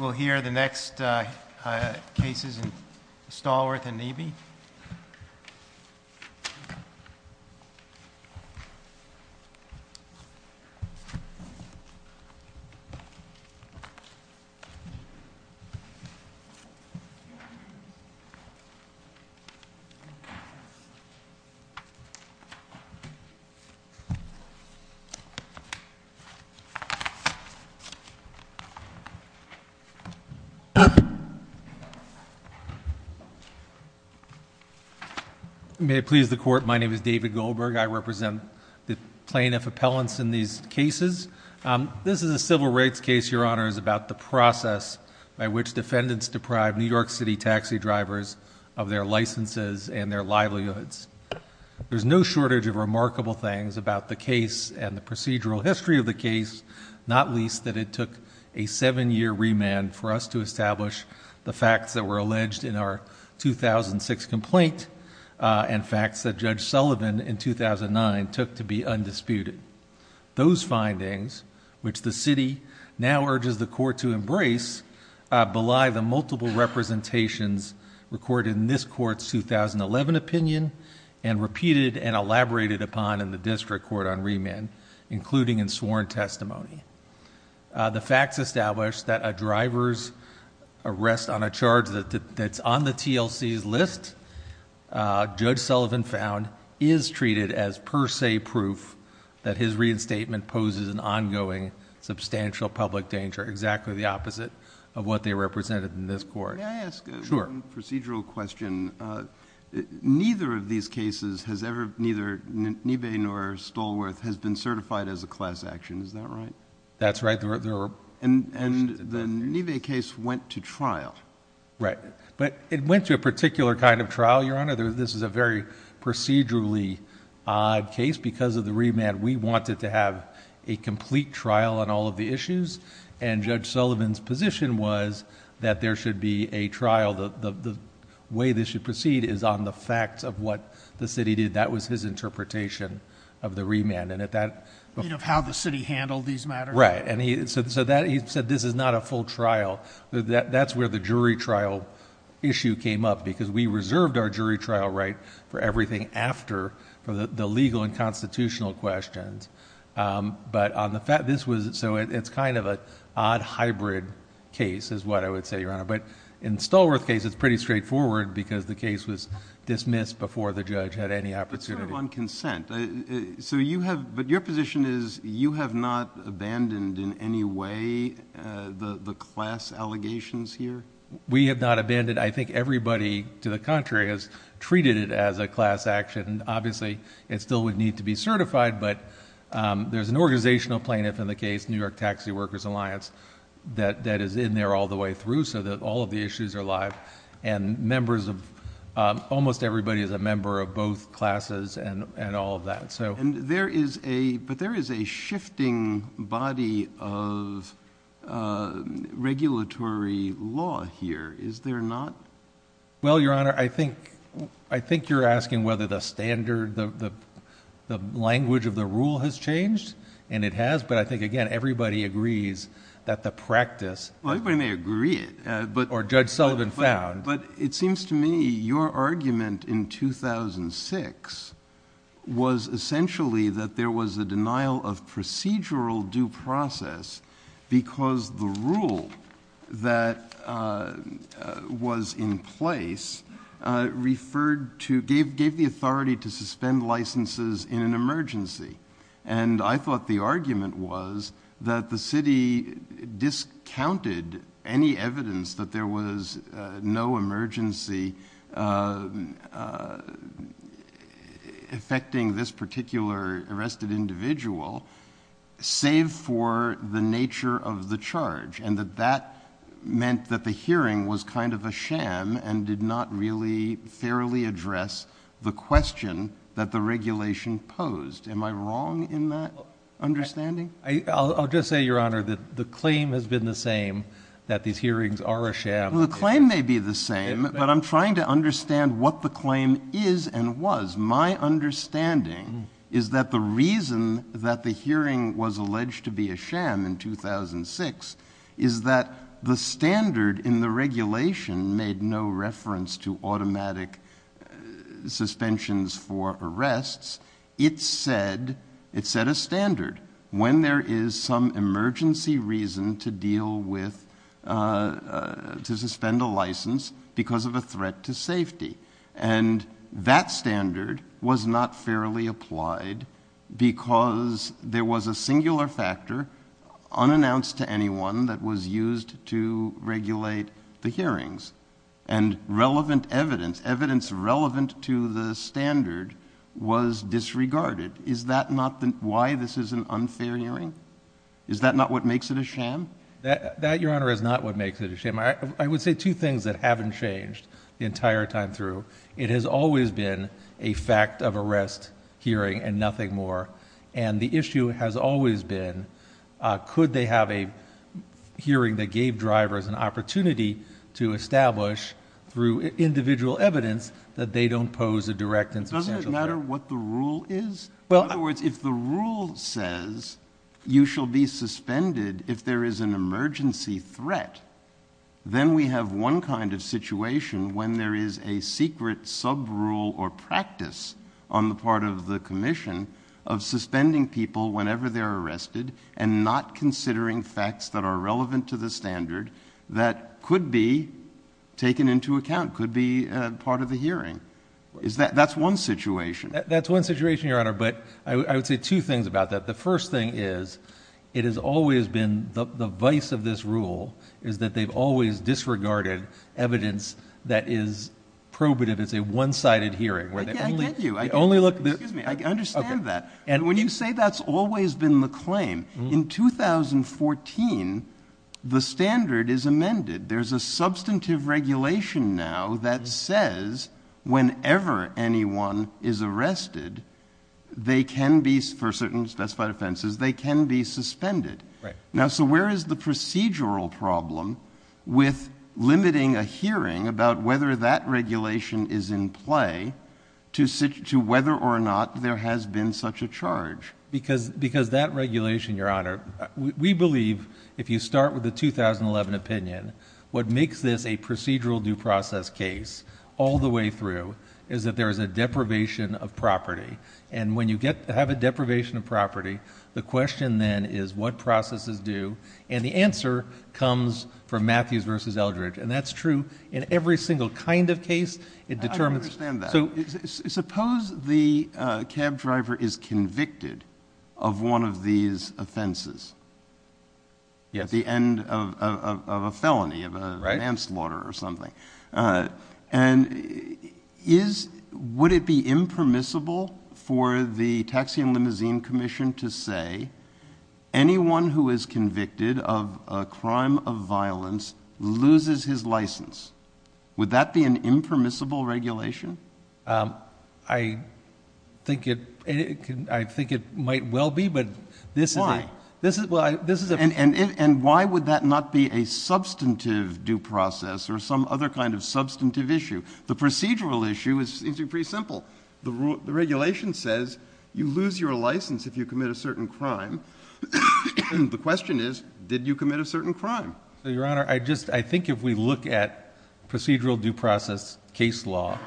We'll hear the next cases in Stallworth and Nnebe. May it please the court, my name is David Goldberg, I represent plaintiff appellants in these cases. This is a civil rights case, your honors, about the process by which defendants deprive New York City taxi drivers of their licenses and their livelihoods. There's no shortage of remarkable things about the case and the procedural history of the case, not least that it took a seven-year remand for us to establish the facts that were alleged in our 2006 complaint and facts that Judge Sullivan in 2009 took to be undisputed. Those findings, which the city now urges the court to embrace, belie the multiple representations recorded in this court's 2011 opinion and repeated and elaborated upon in the district court on remand, including in sworn testimony. The facts establish that a driver's arrest on a charge that's on the TLC list, Judge Sullivan found, is treated as per se proof that his reinstatement poses an ongoing substantial public danger, exactly the opposite of what they represented in this court. May I ask a procedural question? Neither of these cases has ever, neither Niebe nor Stolworth, has been certified as a class action, is that right? That's right. And the Niebe case went to trial. Right. But it went to a particular kind of trial, your honor. This is a very procedurally odd case because of the remand. We wanted to have a complete trial on all of the issues, and Judge Sullivan's position was that there should be a trial, the way this should proceed is on the facts of what the city did. That was his interpretation of the remand. And at that... How the city handled these matters. Right. And he said this is not a full trial. That's where the jury trial issue came up because we reserved our jury trial right for everything after for the legal and constitutional questions. But this was, so it's kind of an odd hybrid case is what I would say, your honor. But in Stolworth's case, it's pretty straightforward because the case was dismissed before the judge had any opportunity. But sort of on consent, so you have, but your position is you have not abandoned in any way the class allegations here? We have not abandoned. I think everybody, to the contrary, has treated it as a class action. And obviously it still would need to be certified, but there's an organizational plaintiff in the case, New York Taxi Workers Alliance, that is in there all the way through so that all of the issues are live and members of, almost everybody is a member of both classes and all of that. So... And there is a, but there is a shifting body of regulatory law here. Is there not? Well, your honor, I think, I think you're asking whether the standard, the language of the rule has changed and it has, but I think, again, everybody agrees that the practice... Well, everybody may agree it, but... Or Judge Sullivan found. But it seems to me your argument in 2006 was essentially that there was a denial of procedural due process because the rule that was in place referred to, gave the authority to suspend licenses in an emergency. And I thought the argument was that the city discounted any evidence that there was no individual, save for the nature of the charge and that that meant that the hearing was kind of a sham and did not really fairly address the question that the regulation posed. Am I wrong in that understanding? I'll just say, your honor, that the claim has been the same, that these hearings are a sham. Well, the claim may be the same, but I'm trying to understand what the claim is and was. My understanding is that the reason that the hearing was alleged to be a sham in 2006 is that the standard in the regulation made no reference to automatic suspensions for arrests. It said, it set a standard when there is some emergency reason to deal with, to suspend a license because of a threat to safety. And that standard was not fairly applied because there was a singular factor unannounced to anyone that was used to regulate the hearings and relevant evidence, evidence relevant to the standard was disregarded. Is that not why this is an unfair hearing? Is that not what makes it a sham? That, your honor, is not what makes it a sham. I would say two things that haven't changed the entire time through. It has always been a fact of arrest hearing and nothing more. And the issue has always been, could they have a hearing that gave drivers an opportunity to establish through individual evidence that they don't pose a direct insubstantial threat? Doesn't it matter what the rule is? In other words, if the rule says you shall be suspended if there is an emergency threat, then we have one kind of situation when there is a secret sub rule or practice on the part of the commission of suspending people whenever they're arrested and not considering facts that are relevant to the standard that could be taken into account, could be a part of the hearing. That's one situation. That's one situation, your honor. But I would say two things about that. The first thing is, it has always been the vice of this rule is that they've always disregarded evidence that is probative. It's a one-sided hearing where they only look at that. And when you say that's always been the claim in 2014, the standard is amended. There's a substantive regulation now that says whenever anyone is arrested, they can be, for certain specified offenses, they can be suspended. Now so where is the procedural problem with limiting a hearing about whether that regulation is in play to whether or not there has been such a charge? Because that regulation, your honor, we believe if you start with the 2011 opinion, what makes this a procedural due process case all the way through is that there is a deprivation of property. And when you have a deprivation of property, the question then is what process is due? And the answer comes from Matthews v. Eldridge. And that's true in every single kind of case. I understand that. So suppose the cab driver is convicted of one of these offenses at the end of a felony, of a manslaughter or something. And would it be impermissible for the Taxi and Limousine Commission to say anyone who is convicted of a crime of violence loses his license? Would that be an impermissible regulation? I think it might well be, but this is it. And why would that not be a substantive due process or some other kind of substantive issue? The procedural issue is pretty simple. The regulation says you lose your license if you commit a certain crime. The question is, did you commit a certain crime? Your Honor, I think if we look at procedural due process case law,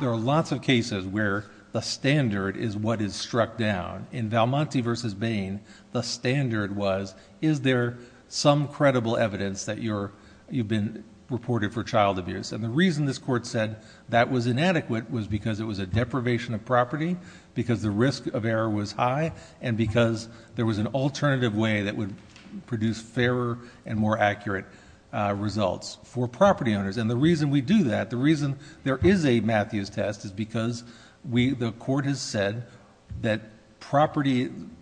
there are lots of cases where the standard is what is struck down. In Valmonte v. Bain, the standard was, is there some credible evidence that you've been reported for child abuse? And the reason this Court said that was inadequate was because it was a deprivation of property, because the risk of error was high, and because there was an alternative way that would produce fairer and more accurate results for property owners. And the reason we do that, the reason there is a Matthews test, is because the Court has said that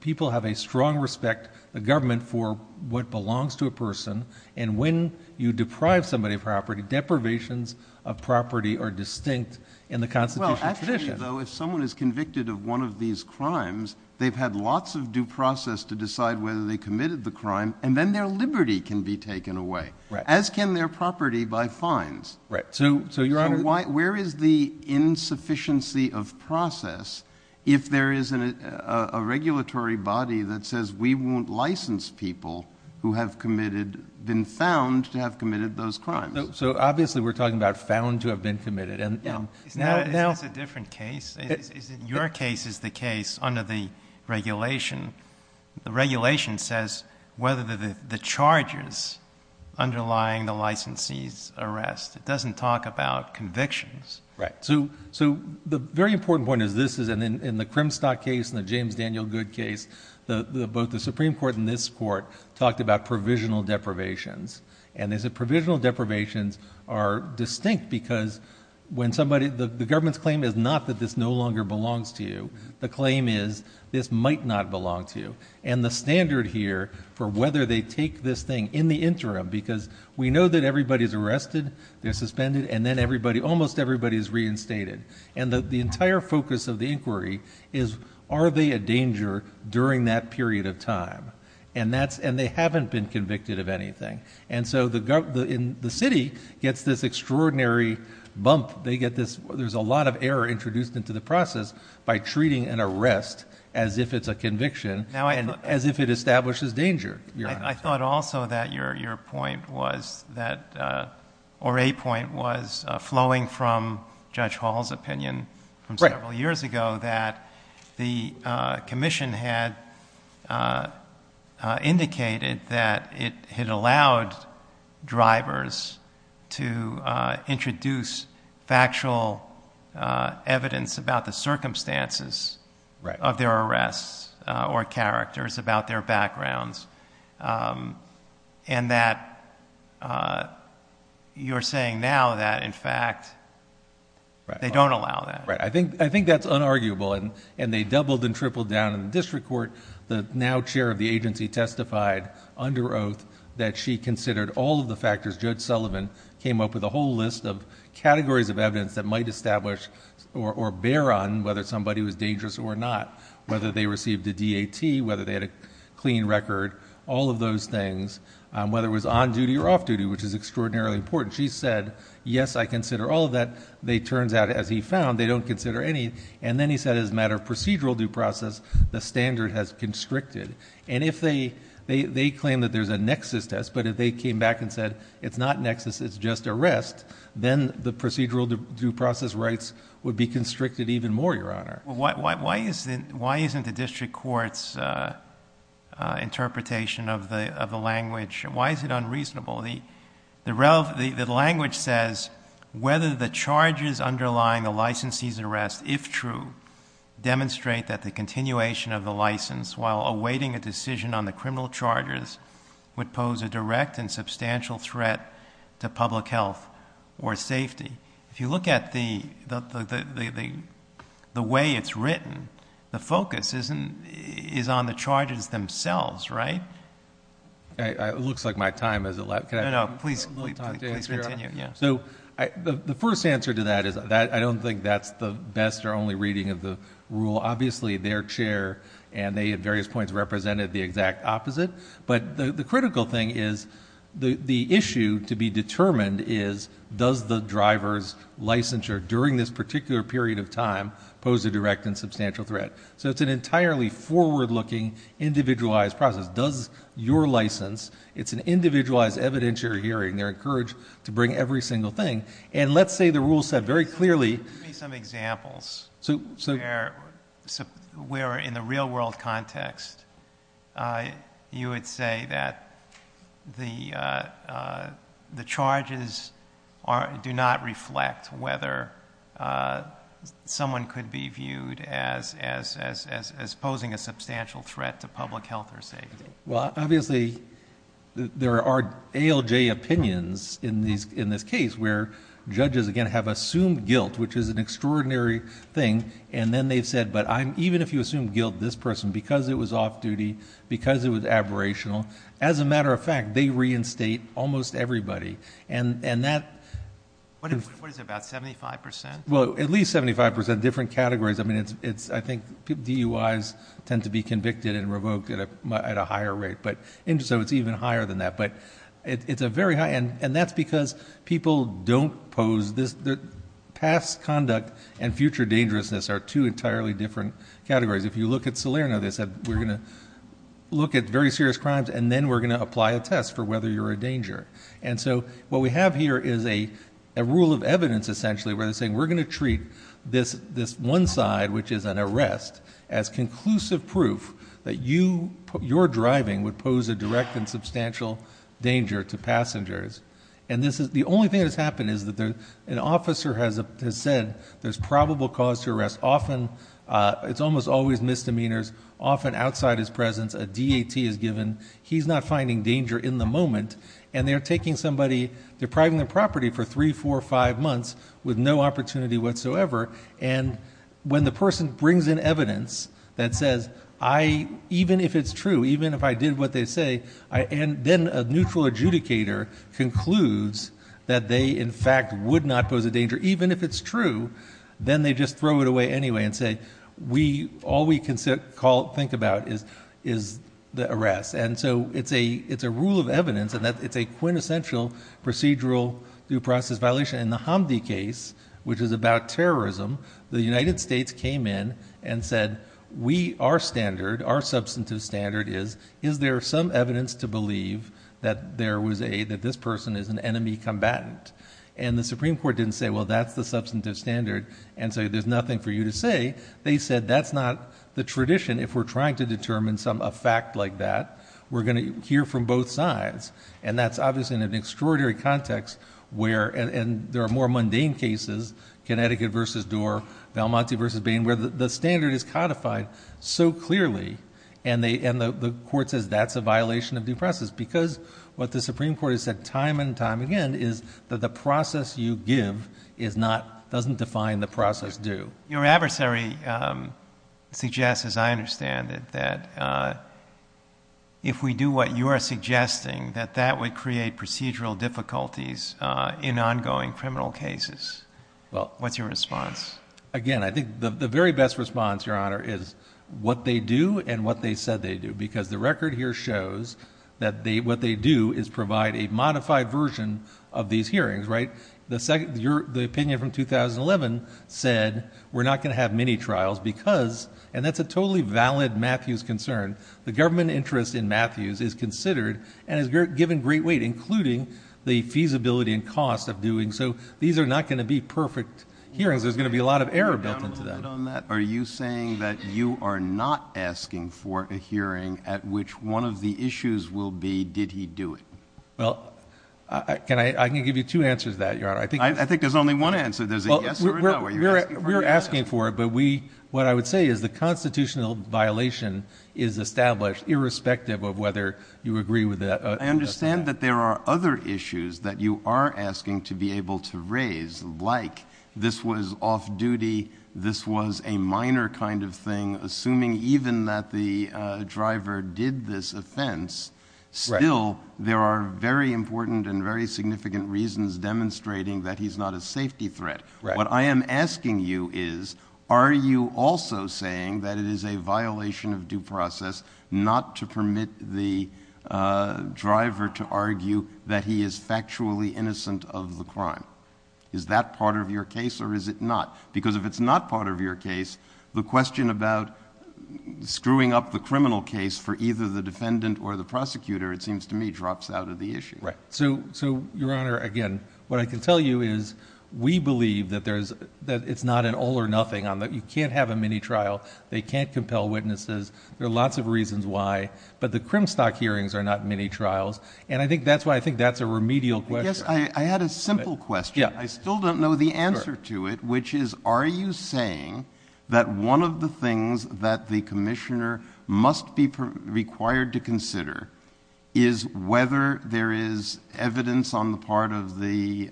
people have a strong respect, the government, for what belongs to a person. And when you deprive somebody of property, deprivations of property are distinct in the constitutional tradition. Well, actually, though, if someone is convicted of one of these crimes, they've had lots of time and process to decide whether they committed the crime, and then their liberty can be taken away, as can their property by fines. Right. So, Your Honor, where is the insufficiency of process if there is a regulatory body that says we won't license people who have committed, been found to have committed those crimes? So obviously we're talking about found to have been committed. And it's a different case. It's in your case is the case under the regulation. The regulation says whether the charges underlying the licensee's arrest, it doesn't talk about convictions. Right. So the very important point is this, is that in the Crimstock case and the James Daniel Goode case, both the Supreme Court and this Court talked about provisional deprivations. And there's a provisional deprivations are distinct because when somebody, the government's claim is not that this no longer belongs to you. The claim is this might not belong to you. And the standard here for whether they take this thing in the interim, because we know that everybody is arrested, they're suspended, and then everybody, almost everybody is reinstated. And the entire focus of the inquiry is, are they a danger during that period of time? And that's, and they haven't been convicted of anything. And so the government, the city gets this extraordinary bump, they get this, there's a lot of error introduced into the process by treating an arrest as if it's a conviction and as if it establishes danger. I thought also that your point was that, or a point was flowing from Judge Hall's opinion from several years ago that the commission had indicated that it had allowed drivers to introduce factual evidence about the circumstances of their arrests or characters about their backgrounds and that you're saying now that, in fact, they don't allow that. Right. I think that's unarguable. And they doubled and tripled down in the district court. The now chair of the agency testified under oath that she considered all of the factors, Judge Sullivan came up with a whole list of categories of evidence that might establish or bear on whether somebody was dangerous or not, whether they received a DAT, whether they had a clean record, all of those things, whether it was on-duty or off-duty, which is extraordinarily important. She said, yes, I consider all of that. They turned out, as he found, they don't consider any. And then he said, as a matter of procedural due process, the standard has constricted. And if they claim that there's a nexus test, but if they came back and said, it's not nexus, it's just arrest, then the procedural due process rights would be constricted even more, Your Honor. Why isn't the district court's interpretation of the language, why is it unreasonable? The language says, whether the charges underlying a licensee's arrest, if true, demonstrate that the continuation of the license while awaiting a decision on the criminal charges would pose a direct and substantial threat to public health or safety. If you look at the way it's written, the focus is on the charges themselves, right? It looks like my time has elapsed. No, no, please continue. The first answer to that is, I don't think that's the best or only reading of the rule. Obviously, their chair and they, at various points, represented the exact opposite. But the critical thing is, the issue to be determined is, does the driver's licensure during this particular period of time pose a direct and substantial threat? So it's an entirely forward-looking, individualized process. Does your license, it's an individualized evidentiary hearing. They're encouraged to bring every single thing. And let's say the rule said very clearly... Where in the real-world context, you would say that the charges do not reflect whether someone could be viewed as posing a substantial threat to public health or safety. Well, obviously, there are ALJ opinions in this case where judges, again, have assumed guilt, which is an extraordinary thing. And then they said, but even if you assume guilt, this person, because it was off-duty, because it was aberrational, as a matter of fact, they reinstate almost everybody. And that... What is it, about 75%? Well, at least 75%, different categories. I mean, I think DUIs tend to be convicted and revoked at a higher rate. But so it's even higher than that. But it's a very high... And that's because people don't pose this... Past conduct and future dangerousness are two entirely different categories. If you look at Salerno, they said, we're going to look at very serious crimes, and then we're going to apply a test for whether you're a danger. And so what we have here is a rule of evidence, essentially, where they're saying, we're going to treat this one side, which is an arrest, as conclusive proof that you, your driving, would pose a direct and substantial danger to passengers. And this is... The only thing that's happened is that an officer has said, there's probable cause to arrest. Often, it's almost always misdemeanors, often outside his presence, a DAT is given. He's not finding danger in the moment. And they're taking somebody, depriving the property for three, four, five months with no opportunity whatsoever. And when the person brings in evidence that says, even if it's true, even if I did what they say, and then a neutral adjudicator concludes that they, in fact, would not pose a danger, even if it's true, then they just throw it away anyway and say, all we can think about is the arrest. And so it's a rule of evidence, and it's a quintessential procedural due process violation. In the Hamdi case, which is about terrorism, the United States came in and said, we, our standard, our substantive standard is, is there some evidence to believe that there was a, that this person is an enemy combatant? And the Supreme Court didn't say, well, that's the substantive standard, and so there's nothing for you to say. They said, that's not the tradition. If we're trying to determine some effect like that, we're going to hear from both sides. And that's obviously in an extraordinary context where, and there are more mundane cases, Connecticut versus Doar, Valmonte versus Bain, where the standard is codified so clearly, and they, and the court says, that's a violation of due process, because what the Supreme Court has said time and time again is that the process you give is not, doesn't define the process due. Your adversary suggests, as I understand it, that if we do what you are suggesting, that that would create procedural difficulties in ongoing criminal cases. Well, what's your response? Again, I think the very best response, Your Honor, is what they do and what they said they do, because the record here shows that they, what they do is provide a modified version of these hearings, right? The second, the opinion from 2011 said, we're not going to have many trials because, and that's a totally valid Matthews concern, the government interest in Matthews is considered and is given great weight, including the feasibility and cost of doing so. These are not going to be perfect hearings. There's going to be a lot of error buttons. Are you saying that you are not asking for a hearing at which one of the issues will be, did he do it? Well, can I, I can give you two answers to that, Your Honor. I think there's only one answer to this. We're asking for it, but we, what I would say is the constitutional violation is established irrespective of whether you agree with that. I understand that there are other issues that you are asking to be able to raise, like this was off duty, this was a minor kind of thing, assuming even that the driver did this offense, still, there are very important and very significant reasons demonstrating that he's not a safety threat. What I am asking you is, are you also saying that it is a violation of due process not to permit the driver to argue that he is factually innocent of the crime? Is that part of your case or is it not? Because if it's not part of your case, the question about screwing up the criminal case for either the defendant or the prosecutor, it seems to me, drops out of the issue. Right. So, Your Honor, again, what I can tell you is we believe that there's, that it's not an all or nothing, you can't have a mini trial, they can't compel witnesses, there are lots of reasons why, but the Crimstock hearings are not mini trials, and I think that's why I think that's a remedial question. I guess I had a simple question, I still don't know the answer to it, which is, are you saying that one of the things that the commissioner must be required to consider is whether there is evidence on the part of the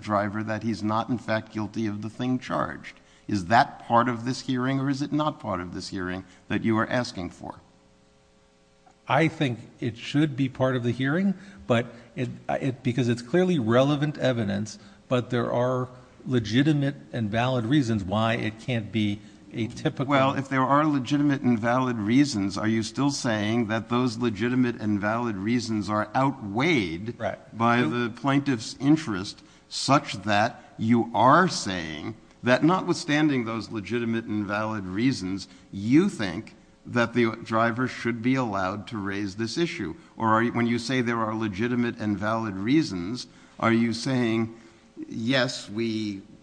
driver that he's not in fact guilty of the thing charged? Is that part of this hearing or is it not part of this hearing that you are asking for? I think it should be part of the hearing, but it, because it's clearly relevant evidence, but there are legitimate and valid reasons why it can't be a typical... Well, if there are legitimate and valid reasons, are you still saying that those legitimate and valid reasons are outweighed by the plaintiff's interest such that you are saying that not withstanding those legitimate and valid reasons, you think that the driver should be allowed to raise this issue? Or when you say there are legitimate and valid reasons, are you saying, yes,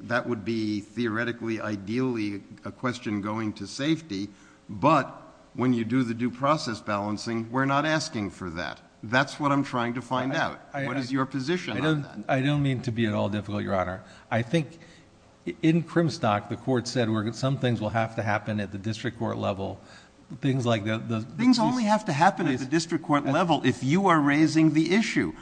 that would be theoretically ideally a question going to safety, but when you do the due process balancing, we're not asking for that? That's what I'm trying to find out. What is your position? I don't mean to be at all difficult, Your Honor. I think in Crimstock, the court said some things will have to happen at the district court level. Things only have to happen at the district court level if you are raising the issue.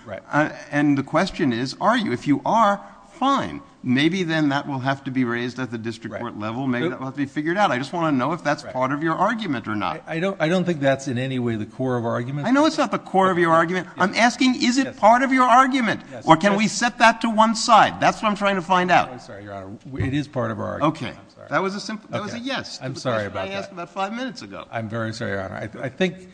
And the question is, are you? If you are, fine. Maybe then that will have to be raised at the district court level. Maybe that will have to be figured out. I just want to know if that's part of your argument or not. I don't think that's in any way the core of our argument. I know it's not the core of your argument. I'm asking, is it part of your argument, or can we set that to one side? That's what I'm trying to find out. I'm sorry, Your Honor. It is part of our argument. Okay. That was a yes. I'm sorry about that. I asked about five minutes ago. I'm very sorry, Your Honor. I think,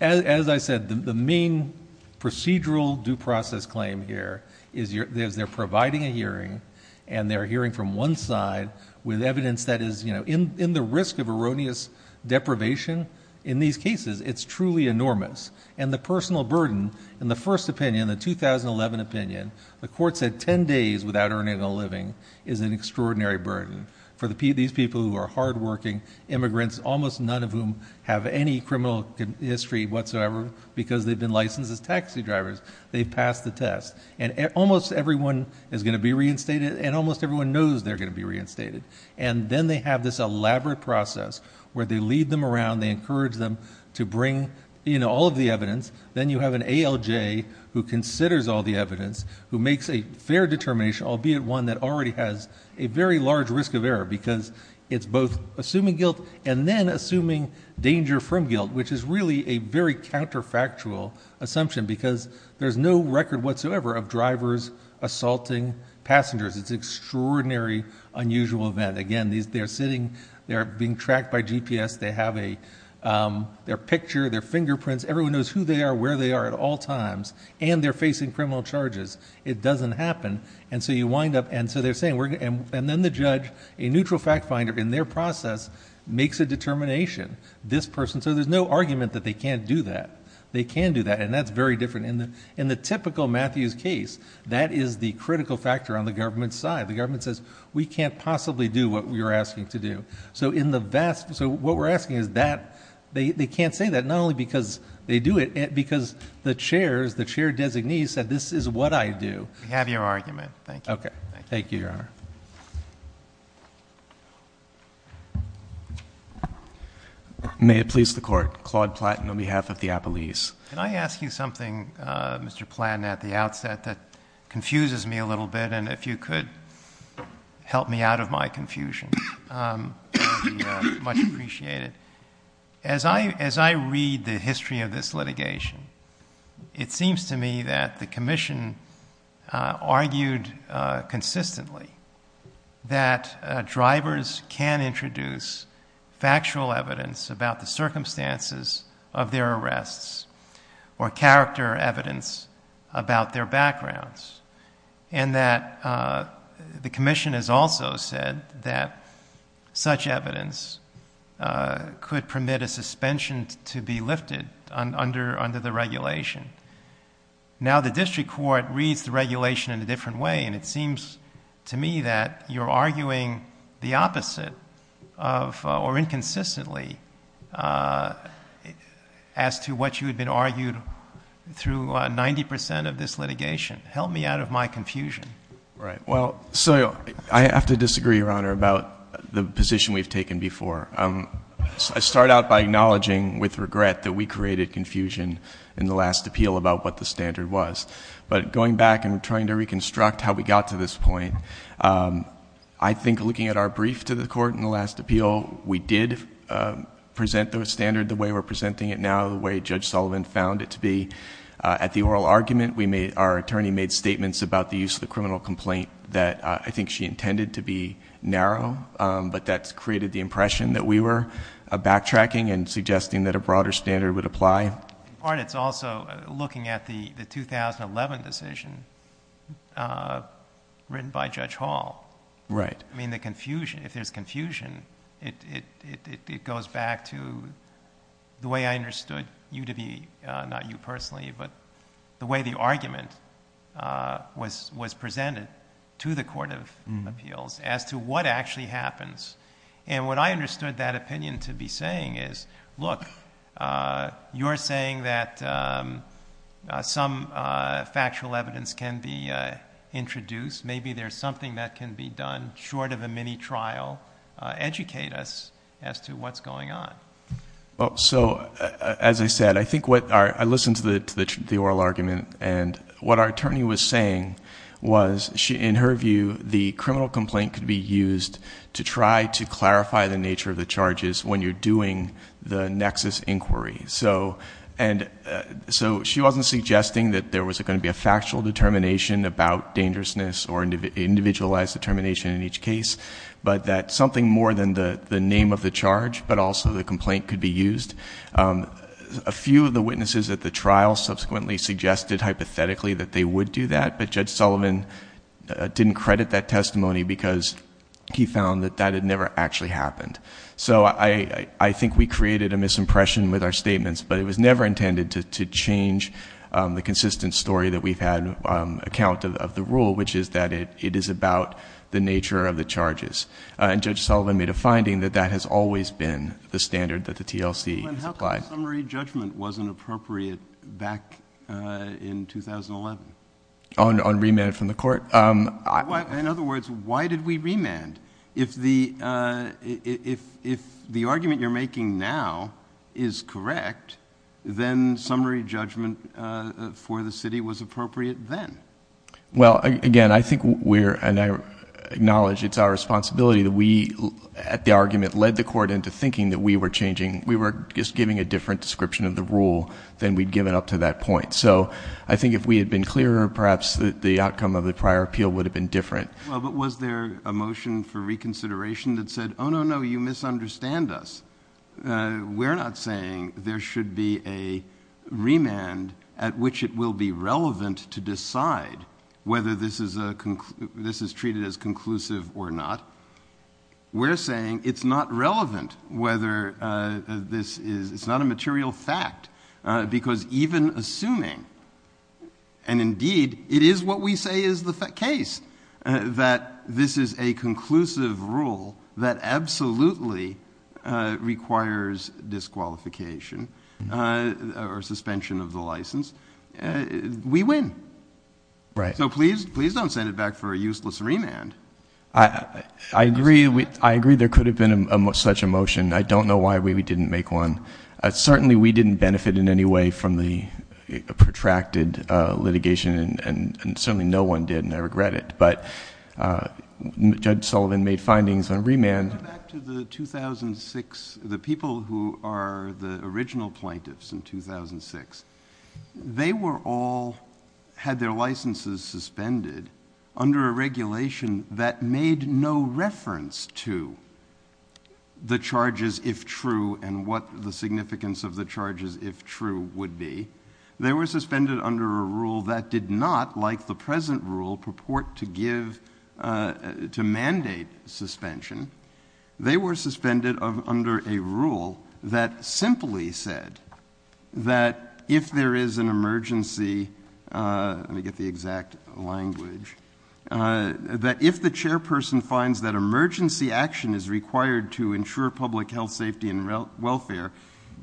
as I said, the main procedural due process claim here is they're providing a hearing and they're hearing from one side with evidence that is, you know, in the risk of erroneous deprivation in these cases, it's truly enormous. And the personal burden, in the first opinion, the 2011 opinion, the court said 10 days without earning a living is an extraordinary burden. For these people who are hardworking immigrants, almost none of whom have any criminal history whatsoever because they've been licensed as taxi drivers, they pass the test. And almost everyone is going to be reinstated, and almost everyone knows they're going to be reinstated. And then they have this elaborate process where they lead them around, they encourage them to bring in all of the evidence. Then you have an ALJ who considers all the evidence, who makes a fair determination, albeit one that already has a very large risk of error because it's both assuming guilt and then assuming danger from guilt, which is really a very counterfactual assumption because there's no record whatsoever of drivers assaulting passengers. It's an extraordinary, unusual event. Again, they're sitting, they're being tracked by GPS, they have a, their picture, their fingerprints, everyone knows who they are, where they are at all times, and they're facing criminal charges. It doesn't happen. And so you wind up, and so they're saying, and then the judge, a neutral fact finder in their process, makes a determination, this person, so there's no argument that they can't do that. They can do that, and that's very different. In the typical Matthews case, that is the critical factor on the government's side. The government says, we can't possibly do what you're asking to do. So in the vast, so what we're asking is that, they can't say that, not only because they do it, because the chair, the chair designee said, this is what I do. We have your argument. Thank you. Thank you, Your Honor. May it please the Court, Claude Platton on behalf of the Appellees. Can I ask you something, Mr. Platton, at the outset that confuses me a little bit, and if you could help me out of my confusion, it would be much appreciated. As I, as I read the history of this litigation, it seems to me that the Commission argued consistently that drivers can introduce factual evidence about the circumstances of their arrests, or character evidence about their backgrounds, and that the Commission has also said that such evidence could permit a suspension to be lifted under, under the regulation. Now the District Court reads the regulation in a different way, and it seems to me that you're arguing the opposite of, or inconsistently, as to what you had been argued through 90 percent of this litigation. Help me out of my confusion. Right. Well, so I have to disagree, Your Honor, about the position we've taken before. I start out by acknowledging with regret that we created confusion in the last appeal about what the standard was, but going back and trying to reconstruct how we got to this point, I think looking at our brief to the Court in the last appeal, we did present the standard the way we're presenting it now, the way Judge Sullivan found it to be. At the oral argument, we made, our attorney made statements about the use of the criminal complaint that I think she intended to be narrow, but that created the impression that we were backtracking and suggesting that a broader standard would apply. In part, it's also looking at the, the 2011 decision written by Judge Hall. Right. I mean, the confusion, if there's confusion, it, it, it, it goes back to the way I understood the UW, not you personally, but the way the argument was, was presented to the Court of Appeals as to what actually happens. And what I understood that opinion to be saying is, look, you're saying that some factual evidence can be introduced. Maybe there's something that can be done short of a mini trial, educate us as to what's going on. Well, so as I said, I think what our, I listened to the, the oral argument and what our attorney was saying was she, in her view, the criminal complaint could be used to try to clarify the nature of the charges when you're doing the nexus inquiry. So, and so she wasn't suggesting that there was going to be a factual determination about dangerousness or individualized determination in each case, but that something more than the, the name of the charge, but also the complaint could be used. A few of the witnesses at the trial subsequently suggested hypothetically that they would do that, but Judge Sullivan didn't credit that testimony because he found that that had never actually happened. So I, I think we created a misimpression with our statements, but it was never intended to change the consistent story that we've had account of the rule, which is that it, it is about the nature of the charges. And Judge Sullivan made a finding that that has always been the standard that the TLC applied. But how come summary judgment wasn't appropriate back in 2011? On remand from the court? In other words, why did we remand? If the, if, if the argument you're making now is correct, then summary judgment for the city was appropriate then? Well, again, I think we're, and I acknowledge it's our responsibility that we at the argument led the court into thinking that we were changing, we were just giving a different description of the rule than we'd given up to that point. So I think if we had been clearer, perhaps the outcome of the prior appeal would have been different. Well, but was there a motion for reconsideration that said, oh no, no, you misunderstand us. We're not saying there should be a remand at which it will be relevant to decide whether this is a, this is treated as conclusive or not. We're saying it's not relevant whether this is, it's not a material fact because even assuming, and indeed it is what we say is the case, that this is a conclusive rule that requires disqualification or suspension of the license, we win. Right. So please, please don't send it back for a useless remand. I agree. I agree there could have been such a motion. I don't know why we didn't make one. Certainly we didn't benefit in any way from the protracted litigation and certainly no one did and I regret it, but Judge Sullivan made findings on remand. Going back to the 2006, the people who are the original plaintiffs in 2006, they were all, had their licenses suspended under a regulation that made no reference to the charges if true and what the significance of the charges if true would be. They were suspended under a rule that did not, like the present rule, purport to give, to mandate suspension. They were suspended under a rule that simply said that if there is an emergency, let me get the exact language, that if the chairperson finds that emergency action is required to ensure public health, safety, and welfare,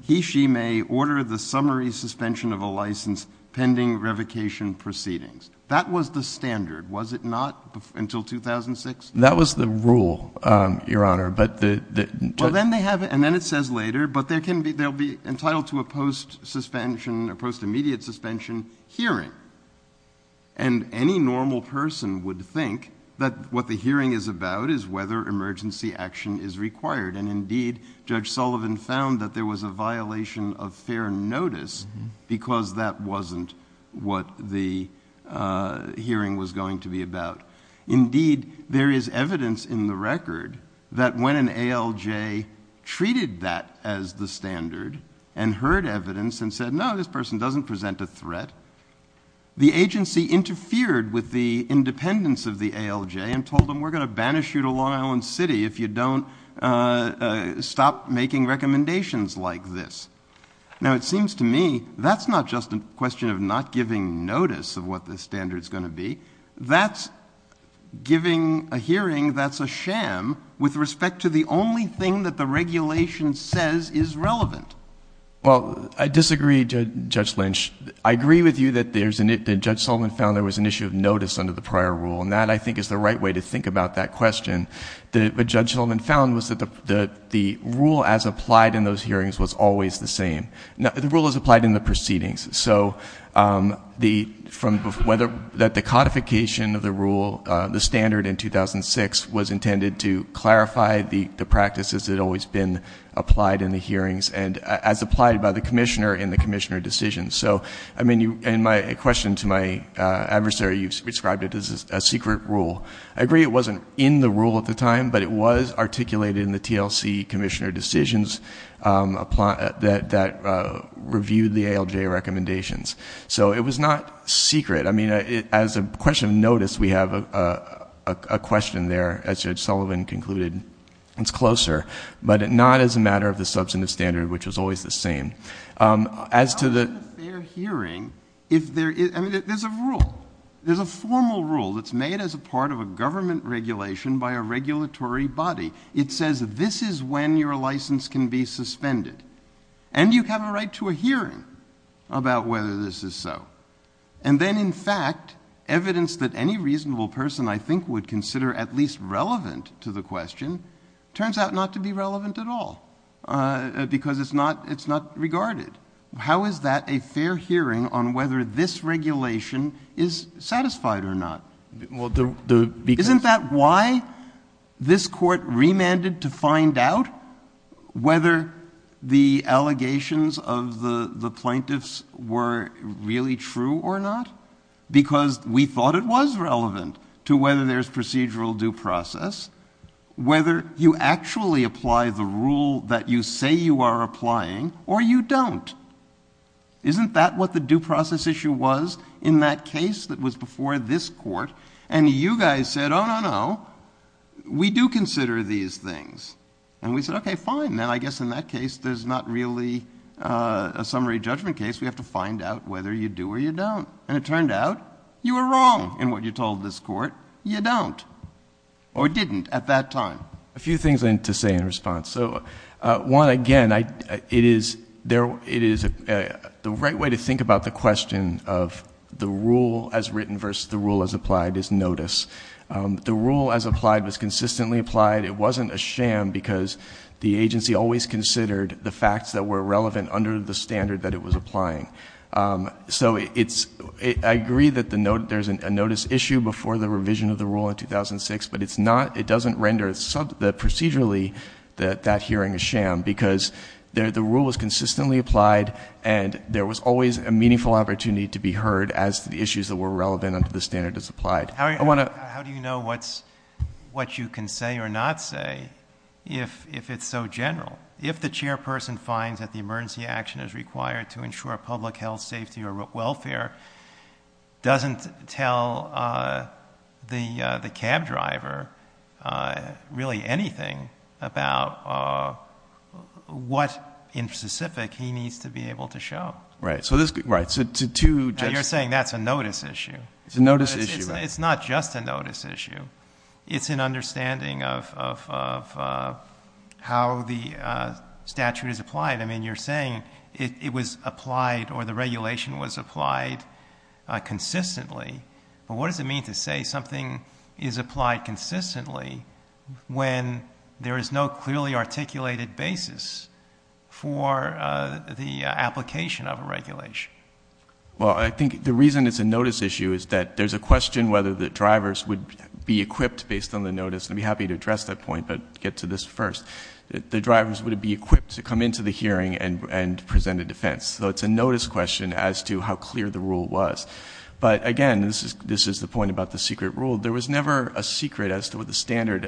he, she may order the summary suspension of a license pending revocation proceedings. That was the standard. Was it not until 2006? That was the rule, Your Honor, but the... But then they have, and then it says later, but there can be, there'll be entitled to a post suspension, a post immediate suspension hearing and any normal person would think that what the hearing is about is whether emergency action is required and indeed Judge Sullivan found that there was a violation of fair notice because that wasn't what the hearing was going to be about. Indeed, there is evidence in the record that when an ALJ treated that as the standard and heard evidence and said, no, this person doesn't present a threat, the agency interfered with the independence of the ALJ and told them we're going to banish you to Long Island City if you don't stop making recommendations like this. Now, it seems to me that's not just a question of not giving notice of what the standard is going to be, that's giving a hearing that's a sham with respect to the only thing that the regulation says is relevant. Well, I disagree, Judge Lynch. I agree with you that there's an issue, that Judge Sullivan found there was an issue of notice under the prior rule and that I think is the right way to think about that question. What Judge Sullivan found was that the rule as applied in those hearings was always the same. The rule is applied in the proceedings. So the codification of the rule, the standard in 2006 was intended to clarify the practices that had always been applied in the hearings and as applied by the commissioner in the commissioner decision. So in my question to my adversary, you described it as a secret rule. I agree it wasn't in the rule at the time, but it was articulated in the TLC commissioner decisions that reviewed the ALJ recommendations. So it was not secret. I mean, as a question of notice, we have a question there, as Judge Sullivan concluded, it's closer, but not as a matter of the substantive standard, which is always the same. As to the fair hearing, if there is, I mean, there's a rule. It's made as a part of a government regulation by a regulatory body. It says, this is when your license can be suspended and you have a right to a hearing about whether this is so. And then in fact, evidence that any reasonable person I think would consider at least relevant to the question turns out not to be relevant at all because it's not, it's not regarded. How is that a fair hearing on whether this regulation is satisfied or not? Isn't that why this court remanded to find out whether the allegations of the plaintiffs were really true or not, because we thought it was relevant to whether there's procedural due process, whether you actually apply the rule that you say you are applying or you don't. Isn't that what the due process issue was in that case that was before this court? And you guys said, oh, no, no, we do consider these things. And we said, okay, fine, then I guess in that case, there's not really a summary judgment case. We have to find out whether you do or you don't. And it turned out you were wrong in what you told this court, you don't or didn't at that time. A few things I need to say in response. So one, again, it is the right way to think about the question of the rule as written versus the rule as applied is notice. The rule as applied was consistently applied. It wasn't a sham because the agency always considered the facts that were relevant under the standard that it was applying. So I agree that there's a notice issue before the revision of the rule in 2006, but it doesn't render procedurally that that hearing is sham because the rule was consistently applied and there was always a meaningful opportunity to be heard as to the issues that were relevant under the standard as applied. I want to... How do you know what you can say or not say if it's so general? If the chairperson finds that the emergency action is required to ensure public health, safety, or welfare, doesn't tell the cab driver really anything about what in specific he needs to be able to show. Right. So this... Right. So two... You're saying that's a notice issue. It's a notice issue. It's not just a notice issue. It's an understanding of how the statute is applied. I mean, you're saying it was applied or the regulation was applied consistently, but what does it mean to say something is applied consistently when there is no clearly articulated basis for the application of a regulation? Well, I think the reason it's a notice issue is that there's a question whether the drivers would be equipped based on the notice. I'd be happy to address that point, but get to this first. The drivers would be equipped to come into the hearing and present a defense. So it's a notice question as to how clear the rule was. But again, this is the point about the secret rule. There was never a secret as to what the standard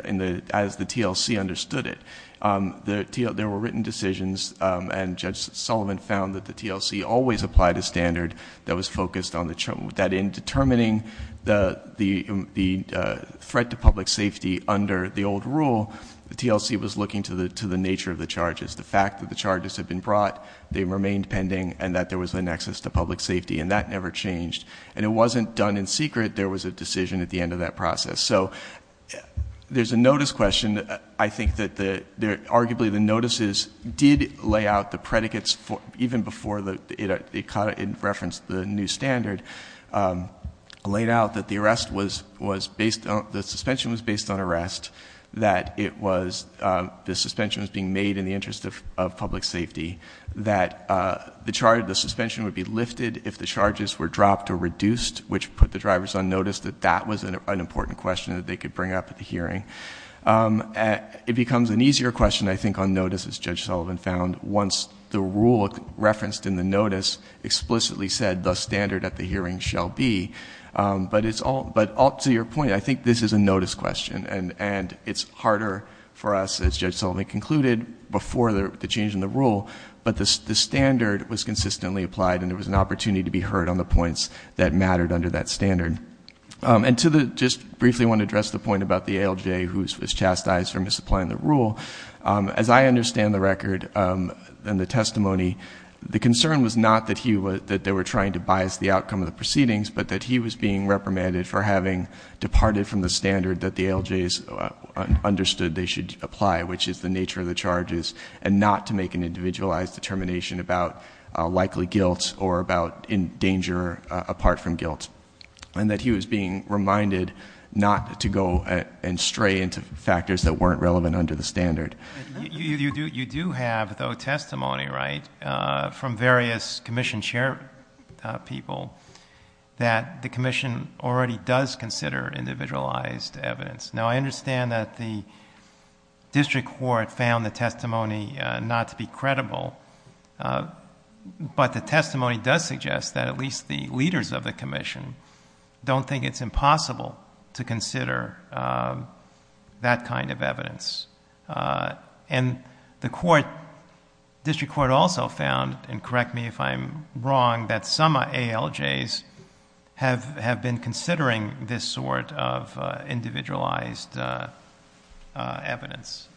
as the TLC understood it. There were written decisions, and Judge Sullivan found that the TLC always applied a standard that was focused on the... That in determining the threat to public safety under the old rule, the TLC was looking to the nature of the charges, the fact that the charges had been brought, they remained pending, and that there was a nexus to public safety, and that never changed. And it wasn't done in secret. There was a decision at the end of that process. So there's a notice question. I think that arguably the notices did lay out the predicates even before it referenced the new standard, laid out that the suspension was based on arrest, that the suspension was being made in the interest of public safety, that the suspension would be lifted if the charges were dropped or reduced, which put the drivers on notice that that was an important question that they could bring up at the hearing. It becomes an easier question, I think, on notice, as Judge Sullivan found, once the standard at the hearing shall be. But up to your point, I think this is a notice question, and it's harder for us, as Judge Sullivan concluded, before the change in the rule, but the standard was consistently applied and there was an opportunity to be heard on the points that mattered under that standard. And just briefly I want to address the point about the ALJ who was chastised for misapplying the rule. As I understand the record and the testimony, the concern was not that they were trying to bias the outcome of the proceedings, but that he was being reprimanded for having departed from the standard that the ALJs understood they should apply, which is the nature of the charges, and not to make an individualized determination about likely guilt or about in danger apart from guilt. And that he was being reminded not to go and stray into factors that weren't relevant under the standard. You do have, though, testimony, right, from various commission chair people that the commission already does consider individualized evidence. Now, I understand that the district court found the testimony not to be credible, but the testimony does suggest that at least the leaders of the commission don't think it's And the court, district court also found, and correct me if I'm wrong, that some ALJs have been considering this sort of individualized evidence.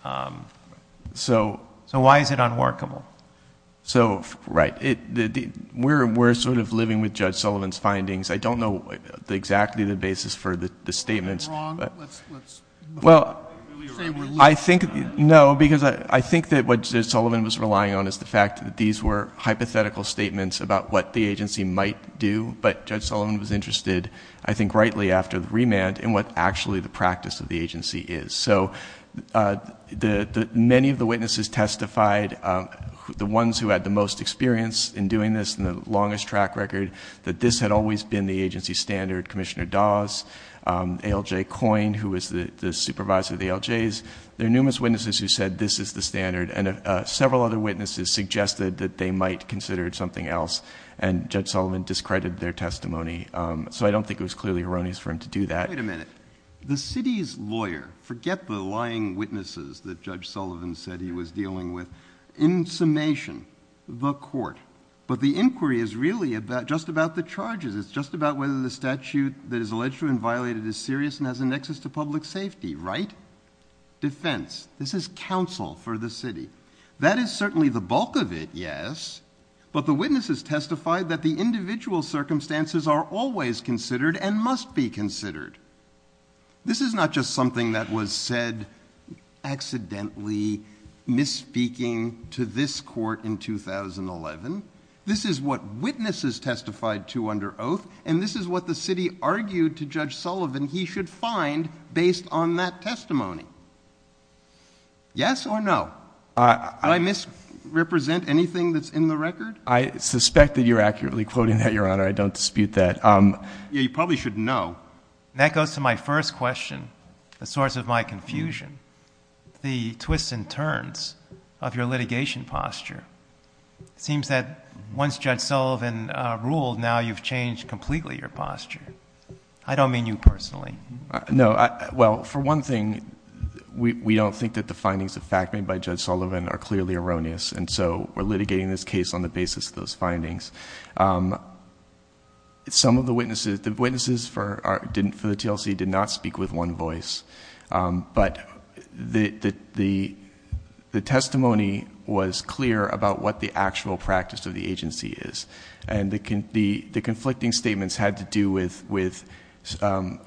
So why is it unworkable? So right. We're sort of living with Judge Sullivan's findings. I don't know exactly the basis for the statements. Well, I think, no, because I think that what Judge Sullivan was relying on is the fact that these were hypothetical statements about what the agency might do. But Judge Sullivan was interested, I think rightly after the remand, in what actually the practice of the agency is. So many of the witnesses testified, the ones who had the most experience in doing this and the longest track record, that this had always been the agency standard. Commissioner Dawes, ALJ Coyne, who was the supervisor of the ALJs, there are numerous witnesses who said this is the standard. And several other witnesses suggested that they might consider it something else. And Judge Sullivan discredited their testimony. So I don't think it was clearly erroneous for him to do that. Wait a minute. The city's lawyer, forget the lying witnesses that Judge Sullivan said he was dealing with, in summation, the court. But the inquiry is really just about the charges. It's just about whether the statute that is alleged to have been violated is serious and has a nexus to public safety, right? Defense. This is counsel for the city. That is certainly the bulk of it, yes, but the witnesses testified that the individual circumstances are always considered and must be considered. This is not just something that was said accidentally, misspeaking to this court in 2011. This is what witnesses testified to under oath, and this is what the city argued to Judge Sullivan he should find based on that testimony. Yes or no? I misrepresent anything that's in the record? I suspect that you're accurately quoting that, Your Honor. I don't dispute that. You probably should know. And that goes to my first question, the source of my confusion. The twists and turns of your litigation posture. It seems that once Judge Sullivan ruled, now you've changed completely your posture. I don't mean you personally. No. Well, for one thing, we all think that the findings of fact made by Judge Sullivan are clearly erroneous, and so we're litigating this case on the basis of those findings. Some of the witnesses, the witnesses for the TLC did not speak with one voice, but the testimony was clear about what the actual practice of the agency is, and the conflicting statements had to do with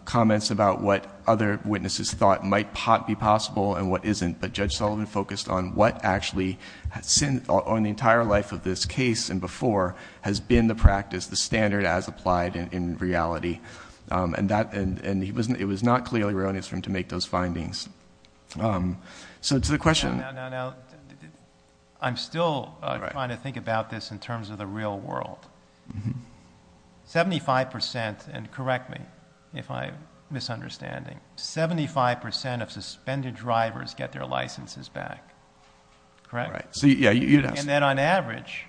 comments about what other witnesses thought might be possible and what isn't, but Judge Sullivan focused on what actually... on the entire life of this case and before has been the practice, the standard as applied in reality, and it was not clearly erroneous for him to make those findings. So to the question... No, no, no. I'm still trying to think about this in terms of the real world. Seventy-five percent, and correct me if I'm misunderstanding, seventy-five percent of suspended drivers get their licenses back. Correct? Right. And then on average,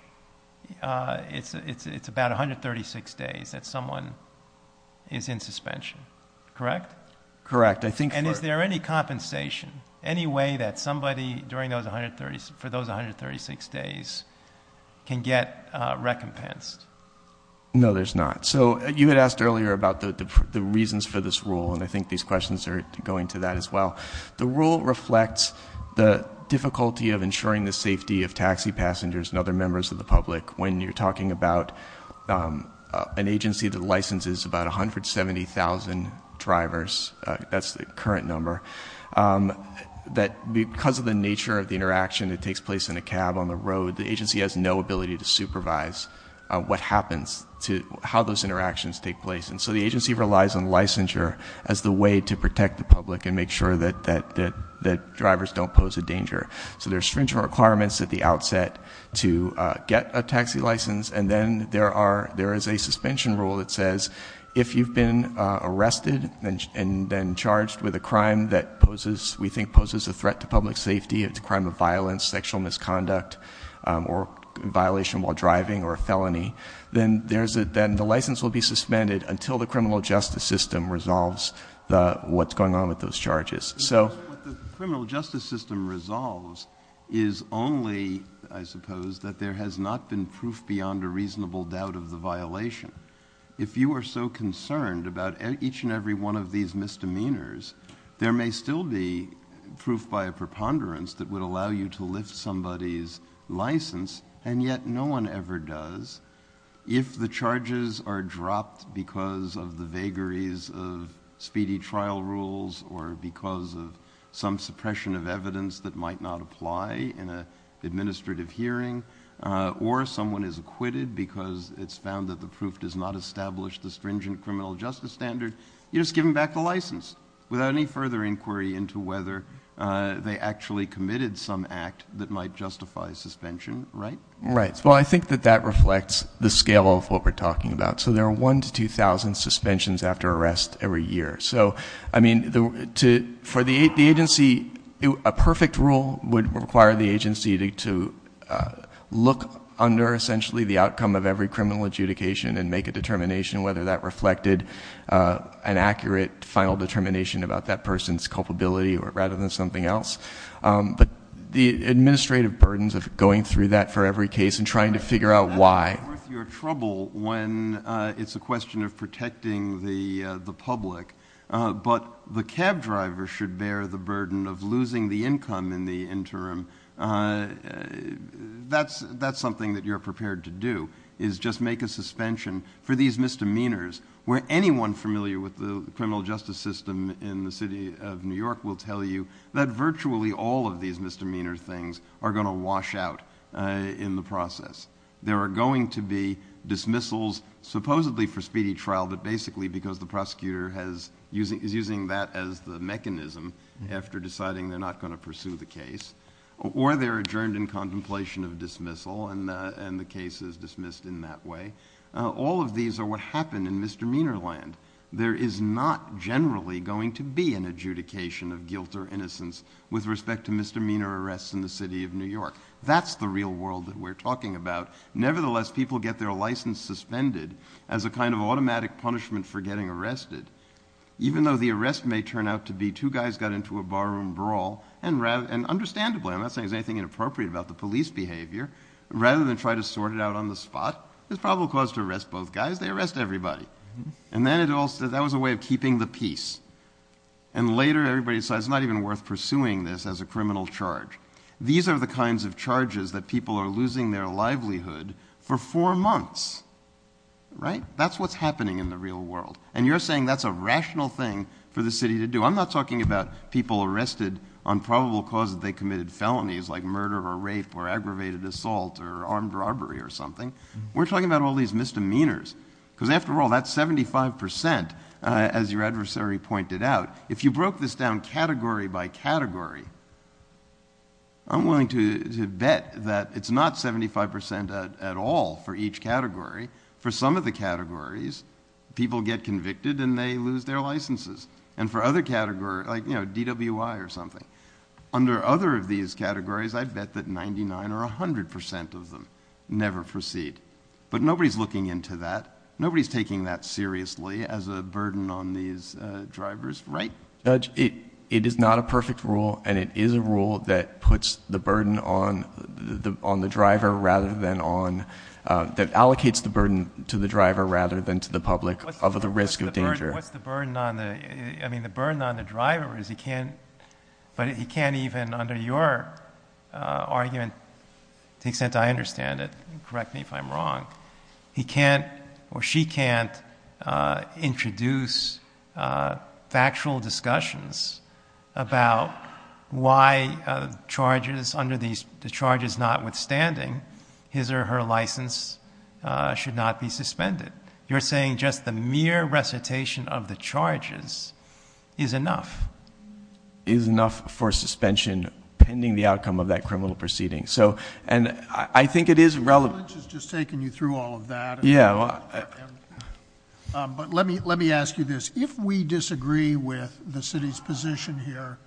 it's about 136 days that someone is in suspension, correct? Correct. I think... And is there any compensation, any way that somebody during those 136 days can get recompensed? No, there's not. So you had asked earlier about the reasons for this rule, and I think these questions are going to that as well. The rule reflects the difficulty of ensuring the safety of taxi passengers and other members of the public when you're talking about an agency that licenses about 170,000 drivers – that's the current number – that because of the nature of the interaction that takes place in a cab on the road, the agency has no ability to supervise what happens to... how those interactions take place, and so the agency relies on licensure as the way to protect the public and make sure that drivers don't pose a danger. So there's stringent requirements at the outset to get a taxi license, and then there is a suspension rule that says if you've been arrested and been charged with a crime that poses – we think poses a threat to public safety, a crime of violence, sexual misconduct, or violation while driving, or a felony, then the license will be suspended until the criminal justice system resolves what's going on with those charges. So... What the criminal justice system resolves is only, I suppose, that there has not been proof beyond a reasonable doubt of the violation. If you are so concerned about each and every one of these misdemeanors, there may still be proof by a preponderance that would allow you to lift somebody's license, and yet no one ever does. If the charges are dropped because of the vagaries of speedy trial rules or because of some suppression of evidence that might not apply in an administrative hearing, or someone is acquitted because it's found that the proof does not establish the stringent criminal justice standard, you're just giving back the license without any further inquiry into whether they actually committed some act that might justify suspension, right? Well, I think that that reflects the scale of what we're talking about. So there are 1,000 to 2,000 suspensions after arrest every year. So I mean, for the agency, a perfect rule would require the agency to look under essentially the outcome of every criminal adjudication and make a determination whether that reflected an accurate final determination about that person's culpability rather than something else. But the administrative burdens of going through that for every case and trying to figure out why. I think you're in trouble when it's a question of protecting the public, but the cab driver should bear the burden of losing the income in the interim. That's something that you're prepared to do, is just make a suspension for these misdemeanors where anyone familiar with the criminal justice system in the city of New York will tell you that virtually all of these misdemeanor things are going to wash out in the process. There are going to be dismissals supposedly for speedy trial, but basically because the prosecutor is using that as the mechanism after deciding they're not going to pursue the case. Or they're adjourned in contemplation of dismissal and the case is dismissed in that way. All of these are what happen in misdemeanor land. There is not generally going to be an adjudication of guilt or innocence with respect to misdemeanor arrests in the city of New York. That's the real world that we're talking about. Nevertheless, people get their license suspended as a kind of automatic punishment for getting arrested. Even though the arrest may turn out to be two guys got into a barroom brawl and understandably, I'm not saying there's anything inappropriate about the police behavior, rather than try to sort it out on the spot, there's probably a cause to arrest both guys, they arrest everybody. And then it all says that was a way of keeping the peace. And later everybody says it's not even worth pursuing this as a criminal charge. These are the kinds of charges that people are losing their livelihood for four months. That's what's happening in the real world. And you're saying that's a rational thing for the city to do. I'm not talking about people arrested on probable cause that they committed felonies like murder or rape or aggravated assault or armed robbery or something. We're talking about all these misdemeanors, because after all, that's 75%. As your adversary pointed out, if you broke this down category by category, I'm willing to bet that it's not 75% at all for each category. For some of the categories, people get convicted and they lose their licenses. And for other categories, like you know, DWI or something. Under other of these categories, I'd bet that 99 or 100% of them never proceed. But nobody's looking into that. Nobody's taking that seriously as a burden on these drivers, right? It is not a perfect rule and it is a rule that puts the burden on the driver rather than on, that allocates the burden to the driver rather than to the public of the risk of danger. What's the burden on the, I mean, the burden on the driver is he can't, but he can't even under your argument, to the extent I understand it, correct me if I'm wrong, he can't or she can't introduce factual discussions about why charges under these, the charges notwithstanding his or her license should not be suspended. You're saying just the mere recitation of the charges is enough. Is enough for suspension pending the outcome of that criminal proceeding. So, and I think it is relevant. I'm just taking you through all of that. Yeah. But let me, let me ask you this. If we disagree with the city's position here,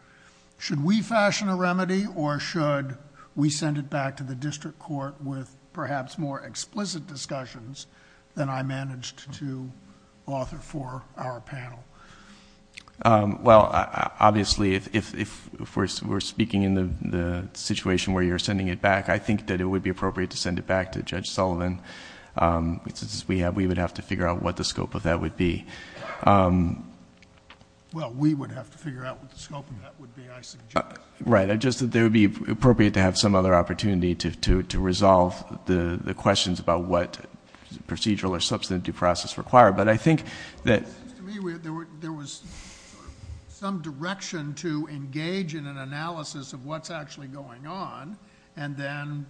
should we fashion a remedy or should we send it back to the district court with perhaps more explicit discussions than I managed to offer for our panel? Well, obviously if we're speaking in the situation where you're sending it back, I think that it would be appropriate to send it back to Judge Sullivan. We have, we would have to figure out what the scope of that would be. Well, we would have to figure out what the scope of that would be, I suggest. Right. I just, that there would be appropriate to have some other opportunity to, to, to resolve the questions about what procedural or substantive due process required. But I think that. To me, there was some direction to engage in an analysis of what's actually going on and then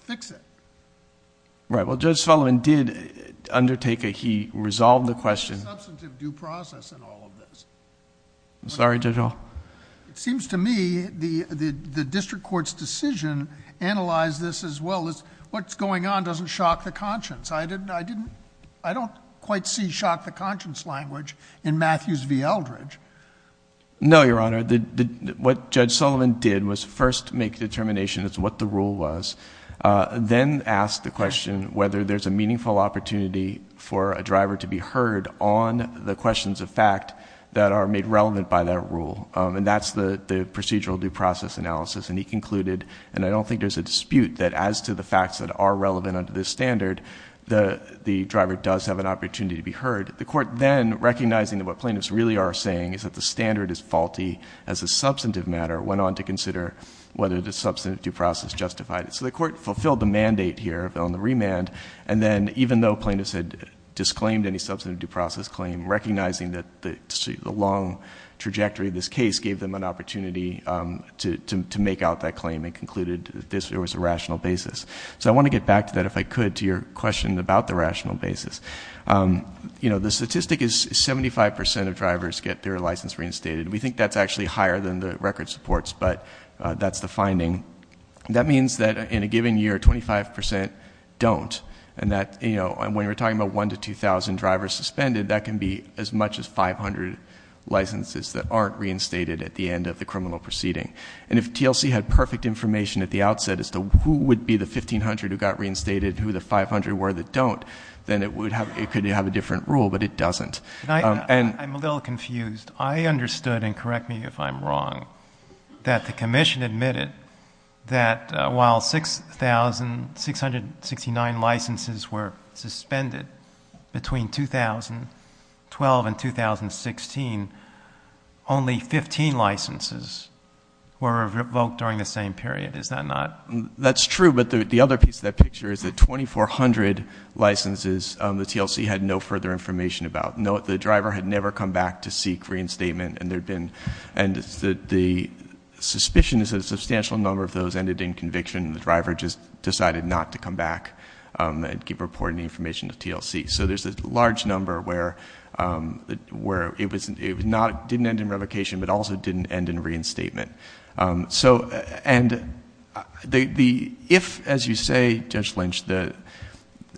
fix it. Right. Well, Judge Sullivan did undertake a, he resolved the question. Substantive due process in all of this. I'm sorry, Judge O. It seems to me the, the, the district court's decision analyzed this as well as what's going on doesn't shock the conscience. I didn't, I didn't, I don't quite see shock the conscience language in Matthews v. Eldredge. No, Your Honor. What Judge Sullivan did was first make the determination as to what the rule was, then ask the question whether there's a meaningful opportunity for a driver to be heard on the And that's the, the procedural due process analysis. And he concluded, and I don't think there's a dispute that as to the facts that are relevant under this standard, the, the driver does have an opportunity to be heard. The court then, recognizing that what plaintiffs really are saying is that the standard is faulty as a substantive matter, went on to consider whether the substantive due process justified it. So the court fulfilled the mandate here on the remand. And then even though plaintiffs had disclaimed any substantive due process claim, recognizing that the, the long trajectory of this case gave them an opportunity to, to make out that claim and concluded that this was a rational basis. So I want to get back to that, if I could, to your question about the rational basis. You know, the statistic is 75% of drivers get their license reinstated. We think that's actually higher than the record supports, but that's the finding. That means that in a given year, 25% don't. And that, you know, when we're talking about 1 to 2,000 drivers suspended, that can be as much as 500 licenses that aren't reinstated at the end of the criminal proceeding. And if TLC had perfect information at the outset as to who would be the 1,500 who got reinstated, who the 500 were that don't, then it would have, it could have a different rule, but it doesn't. And I'm a little confused. I understood, and correct me if I'm wrong, that the Commission admitted that while 6,000, in 2012 and 2016, only 15 licenses were revoked during the same period, is that not? That's true, but the other piece of that picture is that 2,400 licenses, the TLC had no further information about. No, the driver had never come back to seek reinstatement, and there'd been, and the suspicion is that a substantial number of those ended in conviction, and the driver just decided not to come back and keep reporting the information to TLC. So there's a large number where it was not, didn't end in revocation, but also didn't end in reinstatement. So and the, if, as you say, Judge Lynch, that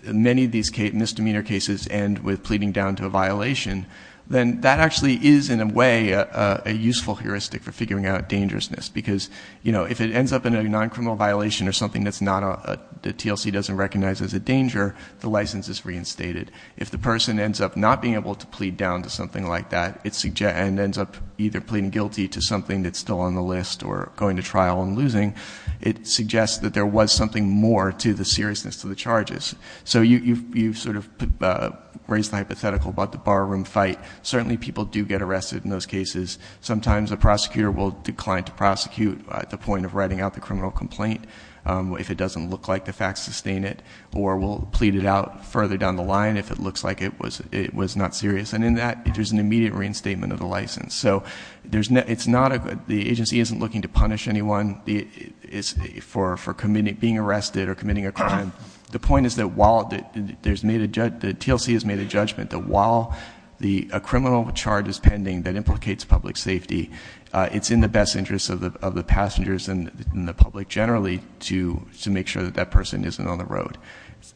many of these misdemeanor cases end with pleading down to a violation, then that actually is, in a way, a useful heuristic for figuring out dangerousness, because, you know, if it ends up in a non-criminal violation or something that's not a, that TLC doesn't recognize as a danger, the license is reinstated. If the person ends up not being able to plead down to something like that, and ends up either pleading guilty to something that's still on the list or going to trial and losing, it suggests that there was something more to the seriousness to the charges. So you've sort of raised a hypothetical about the barroom fight. Certainly people do get arrested in those cases. Sometimes a prosecutor will decline to prosecute at the point of writing out the criminal complaint. If it doesn't look like the facts sustain it, or will plead it out further down the line if it looks like it was, it was not serious. And in that, there's an immediate reinstatement of the license. So there's no, it's not a, the agency isn't looking to punish anyone for committing, being arrested or committing a crime. The point is that while there's made a, the TLC has made a judgment that while the, a criminal charge is pending that implicates public safety, it's in the best interest of the passengers and the public generally to make sure that that person isn't on the road.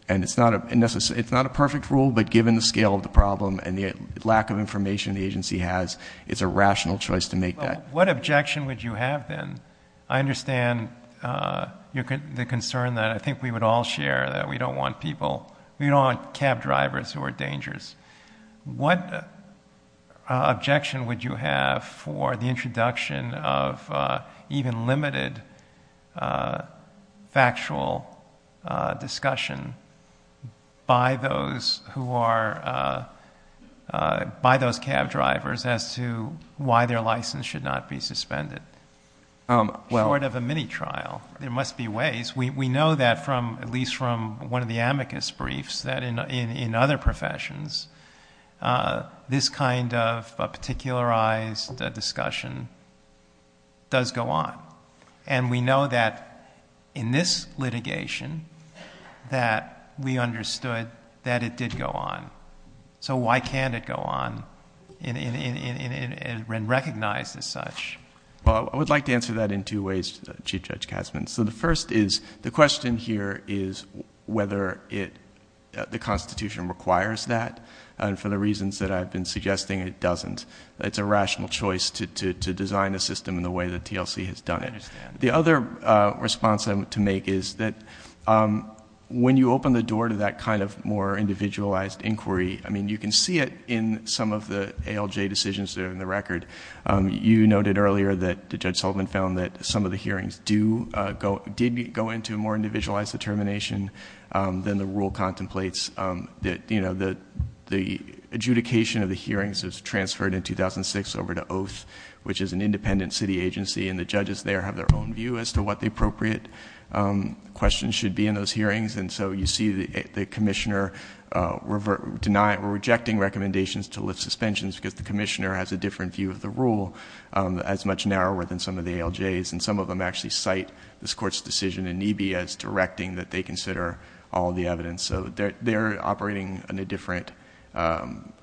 And it's not a, it's not a perfect rule, but given the scale of the problem and the lack of information the agency has, it's a rational choice to make that. What objection would you have then? I understand the concern that I think we would all share that we don't want people, we don't want cab drivers who are dangerous. What objection would you have for the introduction of even limited factual discussion by those who are, by those cab drivers as to why their license should not be suspended? Part of a mini trial, there must be ways, we know that from at least from one of the professions, this kind of a particularized discussion does go on. And we know that in this litigation that we understood that it did go on. So why can't it go on in, in, in, in, in, in, in recognized as such? Well, I would like to answer that in two ways, Chief Judge Kassman. So the first is, the question here is whether it, the constitution requires that. And for the reasons that I've been suggesting, it doesn't. It's a rational choice to, to, to design a system in the way that TLC has done it. The other response I'm to make is that when you open the door to that kind of more individualized inquiry, I mean, you can see it in some of the ALJ decisions that are in the record. You noted earlier that Judge Sullivan found that some of the hearings do go, did go into a more individualized determination than the rule contemplates that, you know, the, the adjudication of the hearings is transferred in 2006 over to Oath, which is an independent city agency. And the judges there have their own view as to what the appropriate questions should be in those hearings. And so you see the, the commissioner deny or rejecting recommendations to lift suspensions because the commissioner has a different view of the rule, as much narrower than some of the ALJs. And some of them actually cite this court's decision in NEBE as directing that they consider all the evidence. So they're, they're operating in a different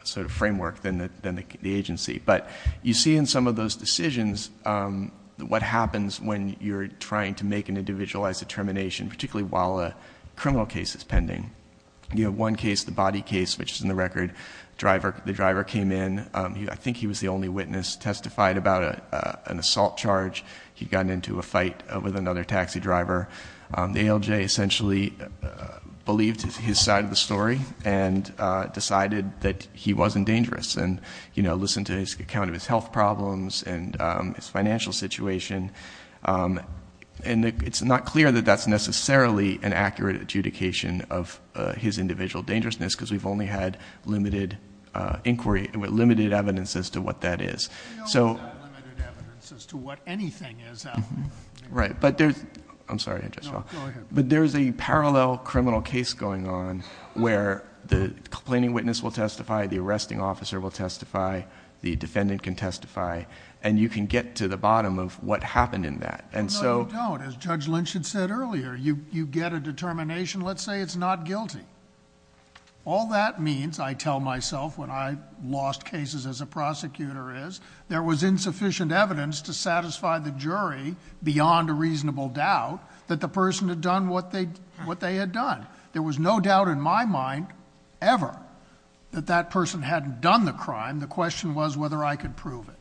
sort of framework than the, than the agency. But you see in some of those decisions what happens when you're trying to make an individualized determination, particularly while a criminal case is pending. You know, one case, the body case, which is in the record, driver, the driver came in. He, I think he was the only witness, testified about a, an assault charge. He got into a fight with another taxi driver. The ALJ essentially believed his side of the story and decided that he wasn't dangerous and, you know, listened to his account of his health problems and his financial situation. And it's not clear that that's necessarily an accurate adjudication of his individual dangerousness because we've only had limited inquiry, limited evidence as to what that is. So... We only have limited evidence as to what anything is out there. Right. But there's, I'm sorry to interrupt. No, go ahead. But there's a parallel criminal case going on where the complaining witness will testify, And so... No, you don't. As Judge Lynch had said earlier, you, you get a determination, let's say it's not guilty. All that means, I tell myself when I lost cases as a prosecutor is, there was insufficient evidence to satisfy the jury beyond a reasonable doubt that the person had done what they, what they had done. There was no doubt in my mind ever that that person hadn't done the crime. The question was whether I could prove it.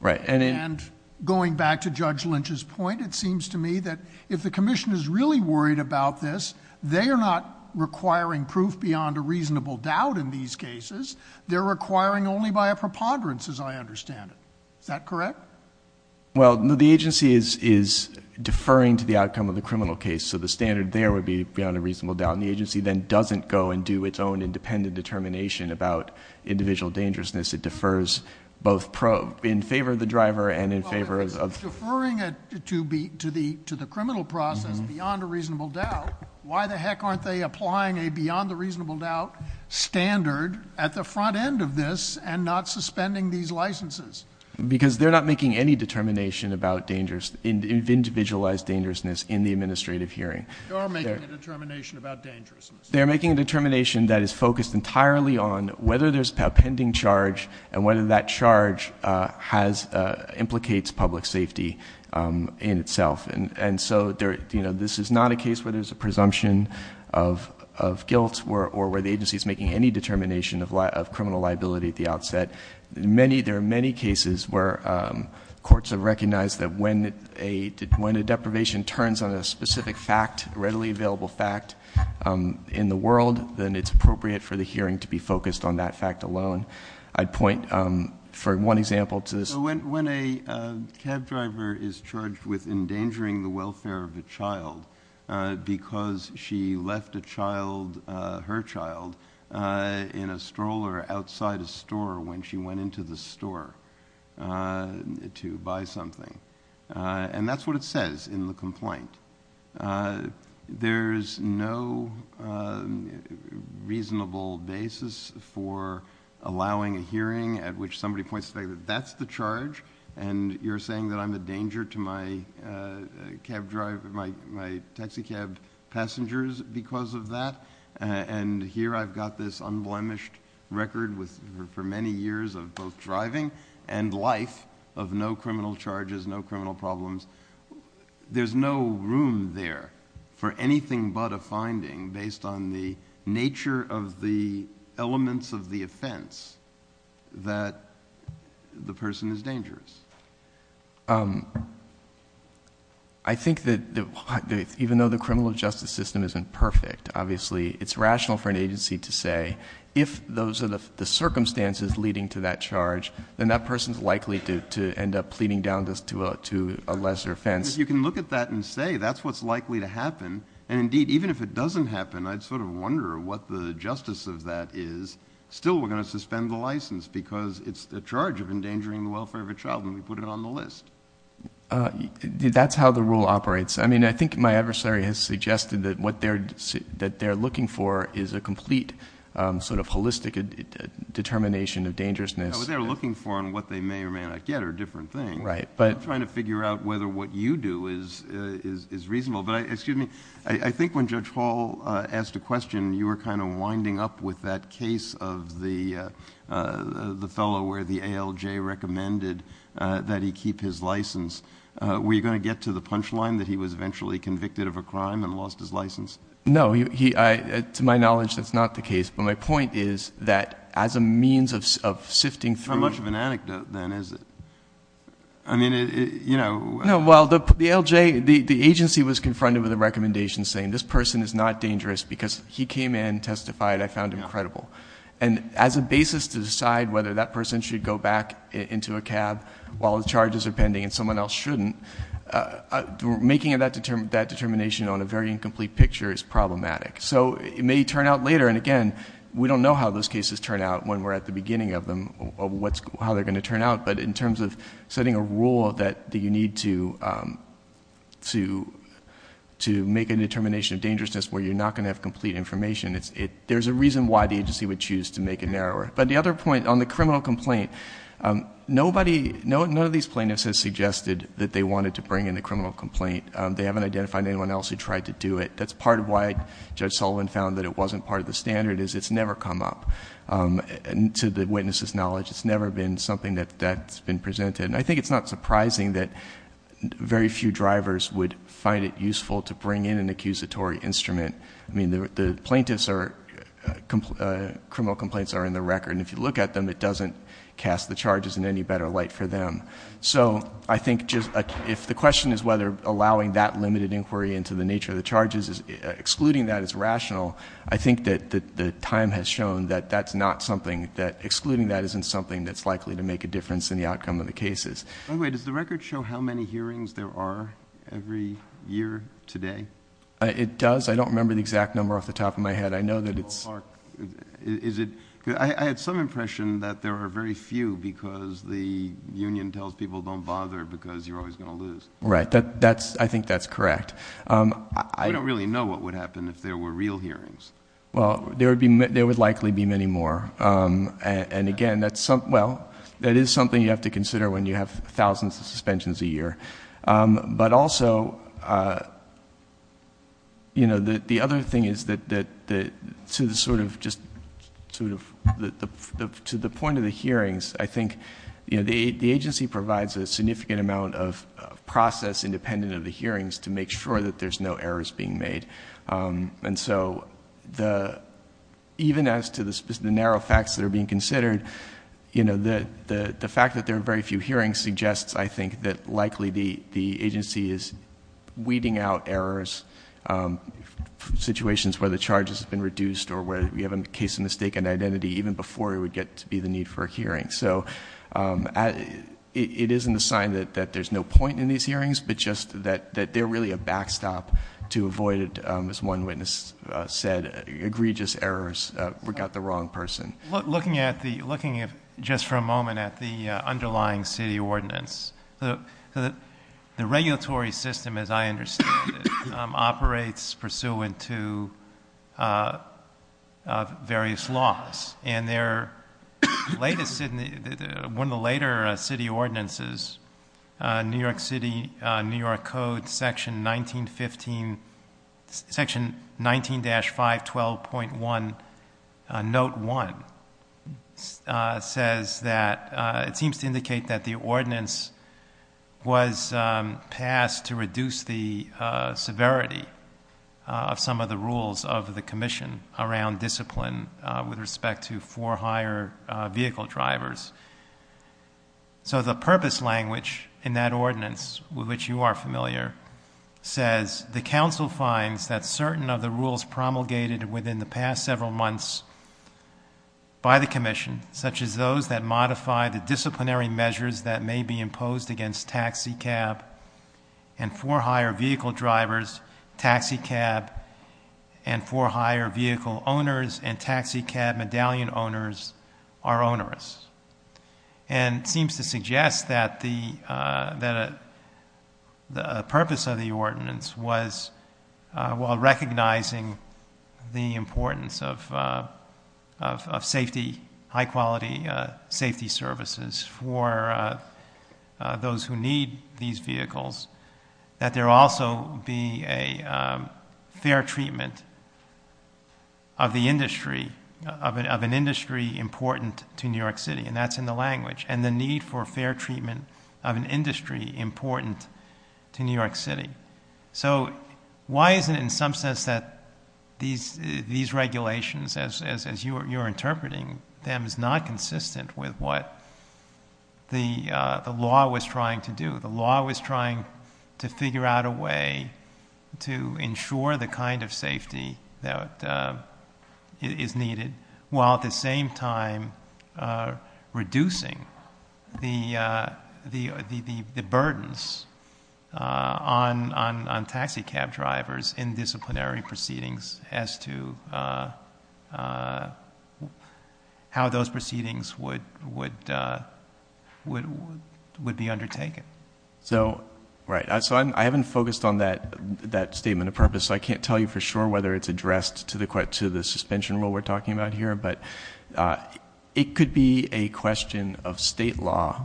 Right. And going back to Judge Lynch's point, it seems to me that if the commission is really worried about this, they are not requiring proof beyond a reasonable doubt in these cases. They're requiring only by a preponderance as I understand it. Is that correct? Well, no, the agency is, is deferring to the outcome of the criminal case. So the standard there would be beyond a reasonable doubt. And the agency then doesn't go and do its own independent determination about individual dangerousness. It defers both probes. In favor of the driver and in favor of... So it's deferring it to be, to the, to the criminal process beyond a reasonable doubt. Why the heck aren't they applying a beyond a reasonable doubt standard at the front end of this and not suspending these licenses? Because they're not making any determination about dangerous, individualized dangerousness in the administrative hearing. They are making a determination about dangerousness. They're making a determination that is focused entirely on whether there's a pending charge and whether that charge has, implicates public safety in itself. And so there, you know, this is not a case where there's a presumption of, of guilt or where the agency is making any determination of criminal liability at the outset. Many, there are many cases where courts have recognized that when a, when a deprivation turns on a specific fact, readily available fact in the world, then it's appropriate for the hearing to be focused on that fact alone. I'd point for one example to this. When, when a cab driver is charged with endangering the welfare of a child because she left a child, her child in a stroller outside a store when she went into the store to buy something. And that's what it says in the complaint. There's no reasonable basis for allowing a hearing at which somebody points to say that that's the charge and you're saying that I'm a danger to my cab driver, my, my taxi cab passengers because of that. And here I've got this unblemished record with, for many years of both driving and life of no criminal charges, no criminal problems. There's no room there for anything but a finding based on the nature of the elements of the offense that the person is dangerous. I think that even though the criminal justice system isn't perfect, obviously it's rational for an agency to say if those are the circumstances leading to that charge, then that person's going to end up pleading down this to a, to a lesser offense. You can look at that and say, that's what's likely to happen. And indeed, even if it doesn't happen, I'd sort of wonder what the justice of that is. Still, we're going to suspend the license because it's a charge of endangering the welfare of a child when we put it on the list. That's how the rule operates. I mean, I think my adversary has suggested that what they're, that they're looking for is a complete sort of holistic determination of dangerousness. Yeah, what they're looking for and what they may or may not get are different things. Right. But I'm trying to figure out whether what you do is, is, is reasonable. But I, excuse me, I think when Judge Hall asked a question, you were kind of winding up with that case of the, the fellow where the ALJ recommended that he keep his license. Were you going to get to the punchline that he was eventually convicted of a crime and lost his license? No, he, I, to my knowledge, that's not the case. But my point is that as a means of, of sifting through. How much of an anecdote then is it? I mean, it, you know, well, the, the ALJ, the, the agency was confronted with a recommendation saying this person is not dangerous because he came in, testified, I found him credible. And as a basis to decide whether that person should go back into a cab while the charges are pending and someone else shouldn't, making that determination on a very incomplete picture is problematic. So, it may turn out later, and again, we don't know how those cases turn out when we're at the beginning of them, of what's, how they're going to turn out. But in terms of setting a rule that you need to, to, to make a determination of dangerousness where you're not going to have complete information, it's, it, there's a reason why the agency would choose to make it narrower. But the other point on the criminal complaint, nobody, none of these plaintiffs has suggested that they wanted to bring in a criminal complaint. They haven't identified anyone else who tried to do it. That's part of why Judge Sullivan found that it wasn't part of the standard, is it's never come up. And to the witness's knowledge, it's never been something that, that's been presented. I think it's not surprising that very few drivers would find it useful to bring in an accusatory instrument. I mean, the, the plaintiffs are, criminal complaints are in the record, and if you look at them, it doesn't cast the charges in any better light for them. So, I think just, if the question is whether allowing that limited inquiry into the nature of the charges, excluding that is rational, I think that the time has shown that that's not something that, excluding that isn't something that's likely to make a difference in the outcome of the cases. By the way, does the record show how many hearings there are every year today? It does. I don't remember the exact number off the top of my head. I know that it's... Is it, I had some impression that there are very few because the union tells people don't bother because you're always going to lose. Right. That, that's, I think that's correct. I don't really know what would happen if there were real hearings. Well, there would be, there would likely be many more. And again, that's something, well, that is something you have to consider when you have thousands of suspensions a year. But also, you know, the, the other thing is that, that, that to the sort of just sort of the, the, the, to the point of the hearings, I think, you know, the, the agency provides a significant amount of process independent of the hearings to make sure that there's no errors being made. And so the, even as to the specific, the narrow facts that are being considered, you know, the, the, the fact that there are very few hearings suggests, I think, that likely the, the agency is weeding out errors, situations where the charges have been reduced or where we have a case of mistaken identity even before we would get to be the need for a hearing. So it, it isn't a sign that, that there's no point in these hearings, but just that, that they're really a backstop to avoid, as one witness said, egregious errors, we got the wrong person. Look, looking at the, looking at, just for a moment, at the underlying city ordinance, the regulatory system, as I understand it, operates pursuant to various laws. And their latest, one of the later city ordinances, New York City, New York Code, section 1915, section 19-512.1, note one, says that, it seems to indicate that the ordinance was passed to reduce the severity of some of the rules of the commission around discipline with respect to for hire vehicle drivers. So the purpose language in that ordinance, which you are familiar, says the council finds that certain of the rules promulgated within the past several months by the commission, such as those that modify the disciplinary measures that may be imposed against taxicab and for hire vehicle drivers, taxicab and for hire vehicle owners and taxicab medallion owners are onerous. And seems to suggest that the, that the purpose of the ordinance was, while recognizing the quality safety services for those who need these vehicles, that there also be a fair treatment of the industry, of an industry important to New York City, and that's in the language. And the need for fair treatment of an industry important to New York City. So why is it in some sense that these regulations, as you are interpreting them, is not consistent with what the law was trying to do? The law was trying to figure out a way to ensure the kind of safety that is needed, while at the same time reducing the burdens on taxicab drivers in disciplinary proceedings as to how those proceedings would be undertaken. So right. So I haven't focused on that statement of purpose, so I can't tell you for sure whether it's addressed to the suspension rule we're talking about here, but it could be a question of state law,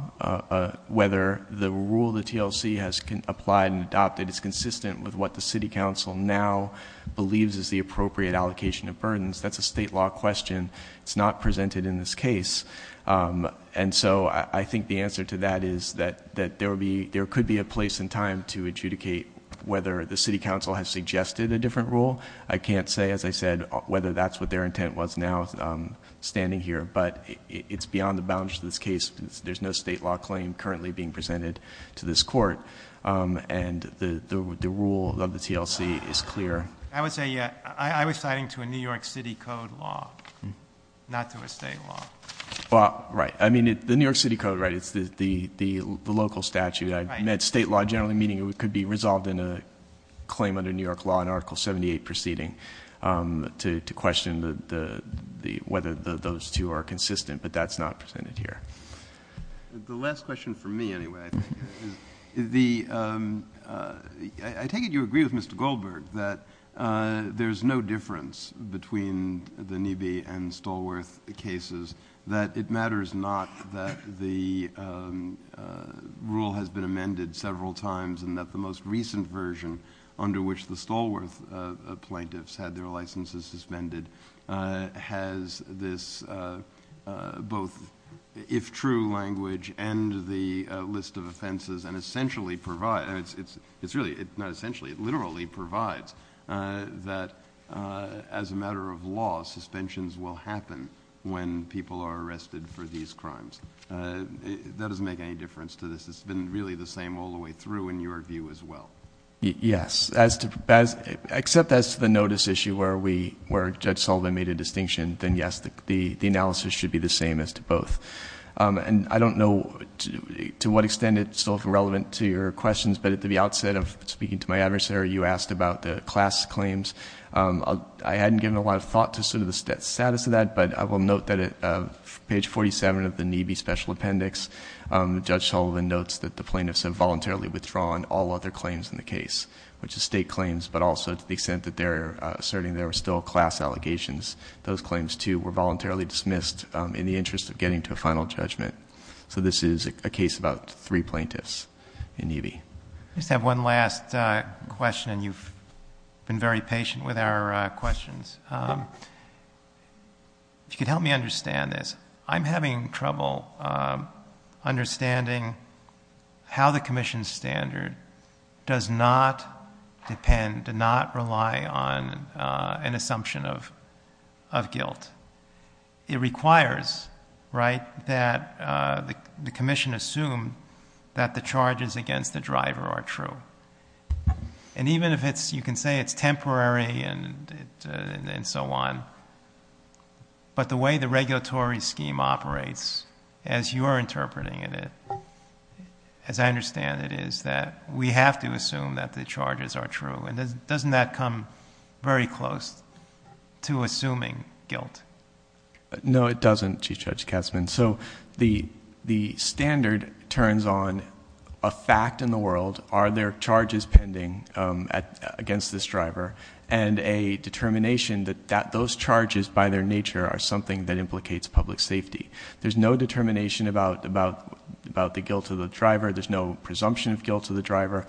whether the rule the TLC has applied and adopted is consistent with what the city council now believes is the appropriate allocation of burdens. That's a state law question. It's not presented in this case. And so I think the answer to that is that there will be, there could be a place in time to adjudicate whether the city council has suggested a different rule. I can't say, as I said, whether that's what their intent was now standing here, but it's beyond the boundaries of this case. There's no state law claim currently being presented to this court. And the rule of the TLC is clear. I would say, yeah, I was citing to a New York City Code law, not to a state law. Well, right. I mean, the New York City Code, right, it's the local statute. I meant state law generally meaning it could be resolved in a claim under New York law under Article 78 proceeding to question the, whether those two are consistent, but that's not presented here. The last question for me anyway, is the, I take it you agree with Mr. Goldberg that there's no difference between the Nibi and Stallworth cases, that it matters not that the rule has been amended several times and that the most recent version under which the Stallworth plaintiffs had their licenses suspended has this both if true language and the list of offenses and essentially provide, it's really, not essentially, it literally provides that as a matter of law, suspensions will happen when people are arrested for these crimes. That doesn't make any difference to this. It's been really the same all the way through in your view as well. Yes. As to, except that's the notice issue where we, where Judge Sullivan made a distinction, then yes, the analysis should be the same as to both. And I don't know to what extent it's relevant to your questions, but at the outset of speaking to my adversary, you asked about the class claims. I hadn't given a lot of thought to sort of the status of that, but I will note that at page 47 of the Nibi special appendix, Judge Sullivan notes that the plaintiffs have voluntarily withdrawn all other claims in the case, which is state claims, but also to the extent that they're asserting there were still class allegations. Those claims too were voluntarily dismissed in the interest of getting to a final judgment. So this is a case about three plaintiffs in Nibi. I just have one last question and you've been very patient with our questions. If you could help me understand this, I'm having trouble understanding how the commission standard does not depend, does not rely on an assumption of guilt. It requires, right, that the commission assume that the charges against the driver are true. And even if it's, you can say it's temporary and so on, but the way the regulatory scheme operates as you are interpreting it, as I understand it, is that we have to assume that the charges are true. And then doesn't that come very close to assuming guilt? No, it doesn't, Chief Judge Kessler. So the standard turns on a fact in the world. Are there charges pending against this driver? And a determination that those charges by their nature are something that implicates public safety. There's no determination about the guilt of the driver. There's no presumption of guilt of the driver.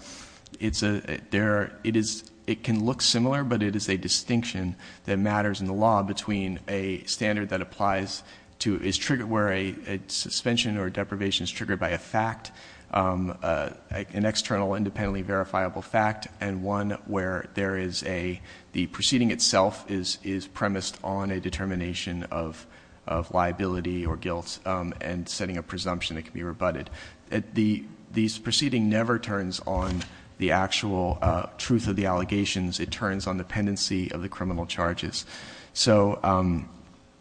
It can look similar, but it is a distinction that matters in the law between a standard that applies to, is triggered where a suspension or deprivation is triggered by a fact, an external independently verifiable fact, and one where there is a, the proceeding itself is premised on a determination of liability or guilt and setting a presumption that can be rebutted. This proceeding never turns on the actual truth of the allegations. It turns on the pendency of the criminal charges. So, um,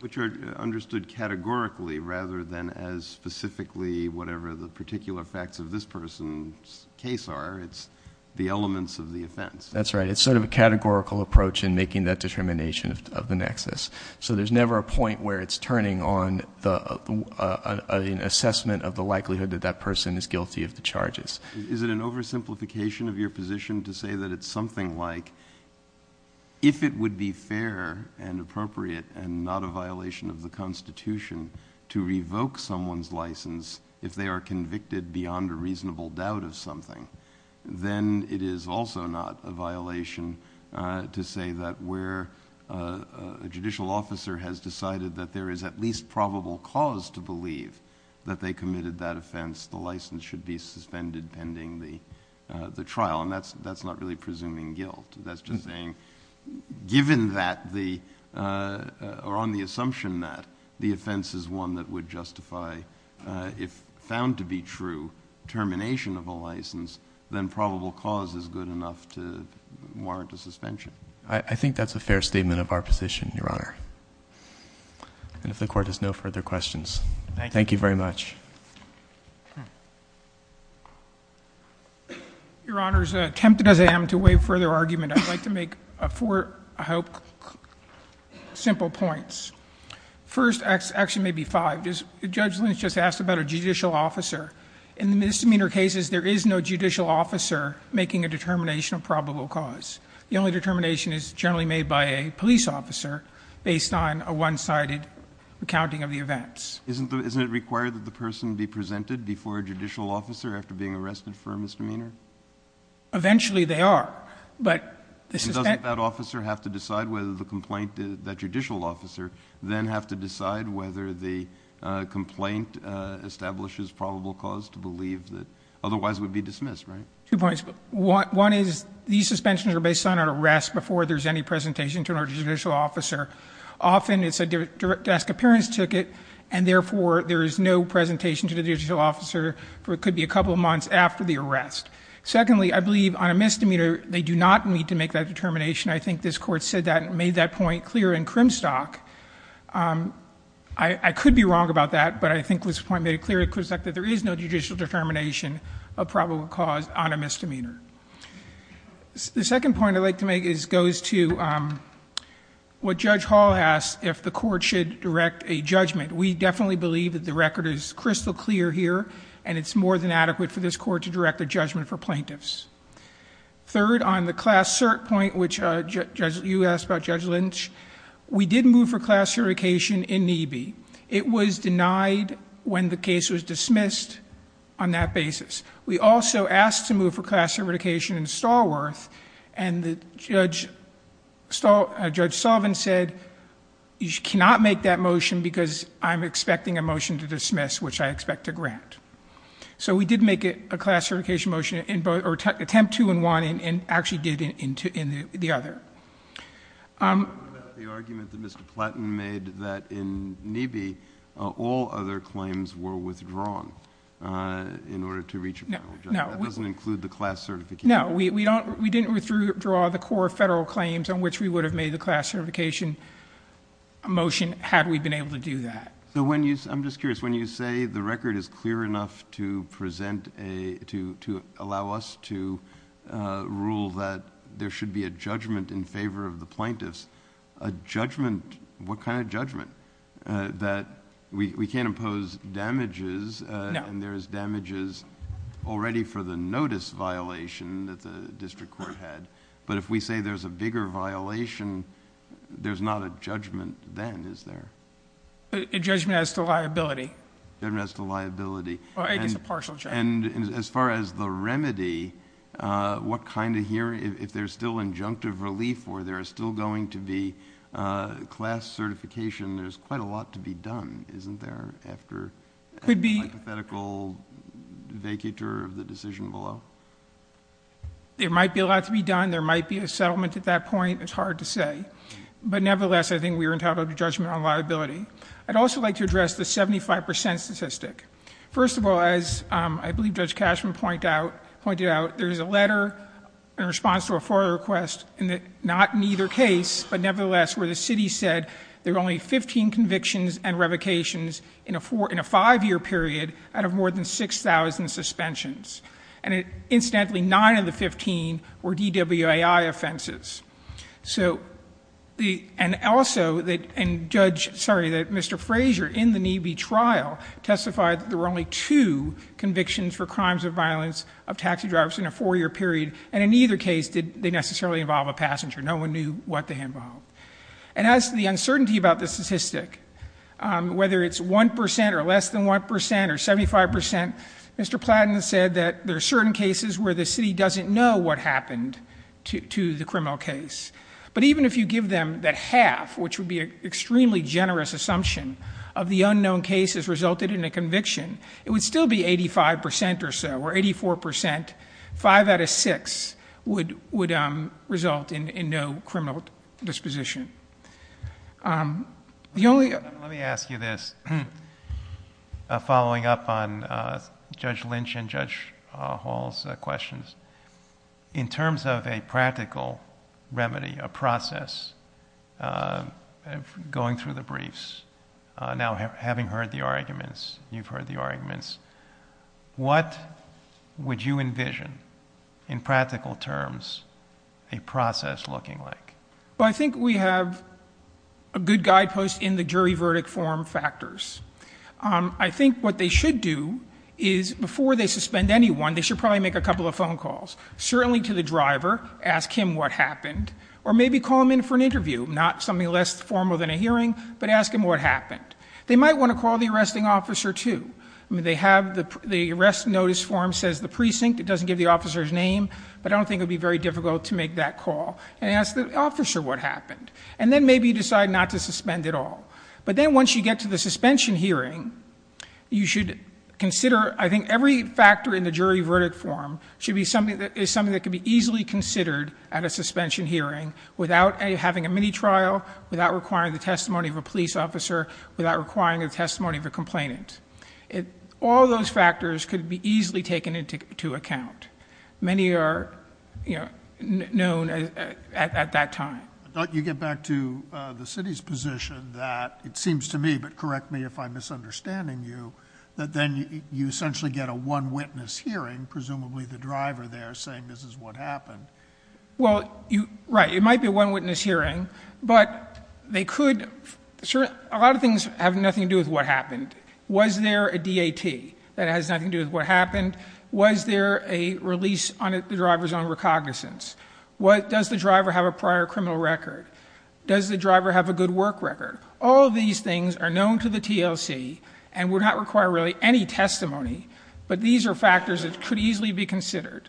But you're understood categorically rather than as specifically, whatever the particular facts of this person's case are, it's the elements of the offense. That's right. It's sort of a categorical approach in making that determination of the nexus. So there's never a point where it's turning on the assessment of the likelihood that that person is guilty of the charges. Is it an oversimplification of your position to say that it's something like, if it would be fair and appropriate and not a violation of the constitution to revoke someone's license if they are convicted beyond a reasonable doubt of something, then it is also not a violation to say that where a judicial officer has decided that there is at least probable cause to believe that they committed that offense, the license should be suspended pending the trial. And that's, that's not really presuming guilt. That's just saying, given that the, uh, or on the assumption that the offense is one that would justify, uh, if found to be true termination of a license, then probable cause is good enough to warrant a suspension. I think that's a fair statement of our position, Your Honor. And if the court has no further questions, thank you very much. Your Honor, as tempted as I am to waive further argument, I'd like to make, uh, four, I hope, simple points. First, actually maybe five, Judge Lynch just asked about a judicial officer. In the misdemeanor cases, there is no judicial officer making a determination of probable cause. The only determination is generally made by a police officer based on a one-sided accounting of the events. Isn't the, isn't it required that the person be presented before a judicial officer after being arrested for a misdemeanor? Eventually, they are, but... And doesn't that officer have to decide whether the complaint, that judicial officer, then have to decide whether the, uh, complaint, uh, establishes probable cause to believe that otherwise would be dismissed, right? Two points. One is these suspensions are based on an arrest before there's any presentation to a judicial officer. Often, it's a direct, direct desk appearance ticket, and therefore, there is no presentation to the judicial officer for, it could be a couple months after the arrest. Secondly, I believe on a misdemeanor, they do not need to make that determination. I think this Court said that, made that point clear in Crimstock. Um, I, I could be wrong about that, but I think this point made it clear in Crimstock that there is no judicial determination of probable cause on a misdemeanor. The second point I'd like to make is, goes to, um, what Judge Hall asked, if the Court should direct a judgment. We definitely believe that the record is crystal clear here, and it's more than adequate for this Court to direct a judgment for plaintiffs. Third, on the class cert point, which, uh, Judge, you asked about Judge Lynch, we did move for class certification in NEBE. It was denied when the case was dismissed on that basis. We also asked to move for class certification in Stallworth, and the Judge, uh, Judge Sullivan said, you cannot make that motion because I'm expecting a motion to dismiss, which I expect to grant. So we did make it a class certification motion in both, or attempt two and one, and actually did it in the other. Um. The argument that Mr. Platton made that in NEBE, all other claims were withdrawn, uh, in order to reach a final judgment, that doesn't include the class certification. No, we, we don't, we didn't withdraw the core federal claims on which we would have made the class certification motion had we been able to do that. So when you, I'm just curious, when you say the record is clear enough to present a, to, to allow us to, uh, rule that there should be a judgment in favor of the plaintiffs, a judgment, what kind of judgment, uh, that we, we can't impose damages, uh, and there is damages already for the notice violation that the district court had. But if we say there's a bigger violation, there's not a judgment then, is there? A judgment as to liability. Judgment as to liability. Well, it is a partial judgment. And, and as far as the remedy, uh, what kind of here, if there's still injunctive relief or there's still going to be, uh, class certification, there's quite a lot to be done, isn't there, after. Could be. A hypothetical vacatur of the decision below. It might be a lot to be done. There might be a settlement at that point. It's hard to say. But nevertheless, I think we were entitled to judgment on liability. I'd also like to address the 75% statistic. First of all, as, um, I believe Judge Cashman point out, pointed out, there's a letter in response to a FOIA request, not in either case, but nevertheless, where the city said there were only 15 convictions and revocations in a four, in a five-year period out of more than 6,000 suspensions. And it, incidentally, nine of the 15 were DWAI offenses. So the, and also that, and Judge, sorry, that Mr. Frazier, in the MeV trial, testified that there were only two convictions for crimes of violence of taxi drivers in a four-year period. And in either case, did they necessarily involve a passenger. No one knew what they involved. And as to the uncertainty about the statistic, whether it's 1% or less than 1% or 75%, Mr. Platten said that there are certain cases where the city doesn't know what happened to the criminal case. But even if you give them the half, which would be an extremely generous assumption of the unknown cases resulted in a conviction, it would still be 85% or so, or 84%, five out of six, would result in no criminal disposition. The only... Let me ask you this, following up on Judge Lynch and Judge Hall's questions. In terms of a practical remedy, a process, going through the briefs, now having heard the arguments, you've heard the arguments, what would you envision, in practical terms, a process looking like? Well, I think we have a good guidepost in the jury verdict form factors. I think what they should do is, before they suspend anyone, they should probably make a couple of phone calls, certainly to the driver, ask him what happened, or maybe call him in for an interview, not something less formal than a hearing, but ask him what happened. They might want to call the arresting officer, too. They have the arrest notice form says the precinct, it doesn't give the officer's name, but I don't think it would be very difficult to make that call, and ask the officer what happened. And then maybe decide not to suspend at all. But then once you get to the suspension hearing, you should consider... I think every factor in the jury verdict form is something that could be easily considered at a suspension hearing without having a mini-trial, without requiring the testimony of a police officer, without requiring a testimony of a complainant. All those factors could be easily taken into account. Many are, you know, known at that time. I thought you get back to the city's position that, it seems to me, but correct me if I'm misunderstanding you, that then you essentially get a one-witness hearing, presumably the driver there saying this is what happened. Well, right, it might be a one-witness hearing, but they could... A lot of things have nothing to do with what happened. Was there a DAT that has nothing to do with what happened? Was there a release on the driver's own recognizance? Does the driver have a prior criminal record? Does the driver have a good work record? All of these things are known to the TLC, and would not require really any testimony, but these are factors that could easily be considered.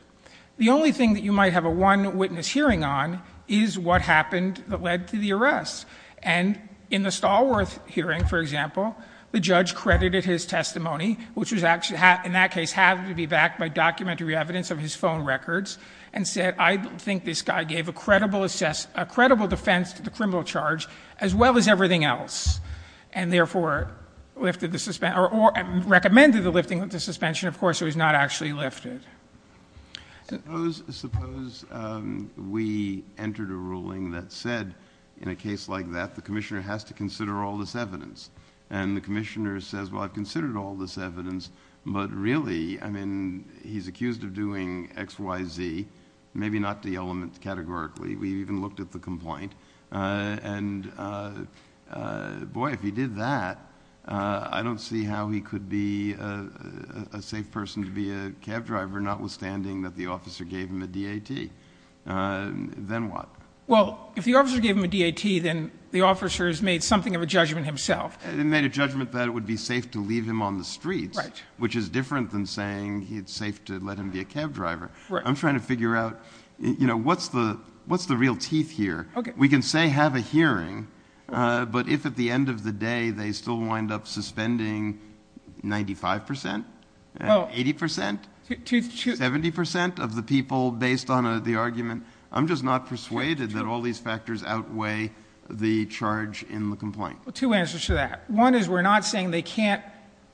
The only thing that you might have a one-witness hearing on is what happened that led to the arrest. And in the Stallworth hearing, for example, the judge credited his testimony, which in that case had to be backed by documentary evidence of his phone records, and said, I think this guy gave a credible defense to the criminal charge, as well as everything else, and therefore lifted the suspension, or recommended the lifting of the suspension. Of course, it was not actually lifted. Suppose we entered a ruling that said, in a case like that, the commissioner has to consider all this evidence. And the commissioner says, well, I've considered all this evidence, but really, I mean, he's accused of doing X, Y, Z, maybe not the elements categorically. We even looked at the complaint. And boy, if he did that, I don't see how he could be a safe person to be a cab driver, notwithstanding that the officer gave him a DAT. Then what? Well, if the officer gave him a DAT, then the officer has made something of a judgment himself. He made a judgment that it would be safe to leave him on the street, which is different than saying it's safe to let him be a cab driver. Right. I'm trying to figure out, you know, what's the real teeth here? We can say have a hearing, but if at the end of the day they still wind up suspending 95 percent, 80 percent, 70 percent of the people based on the argument, I'm just not persuaded that all these factors outweigh the charge in the complaint. Two answers to that. One is we're not saying they can't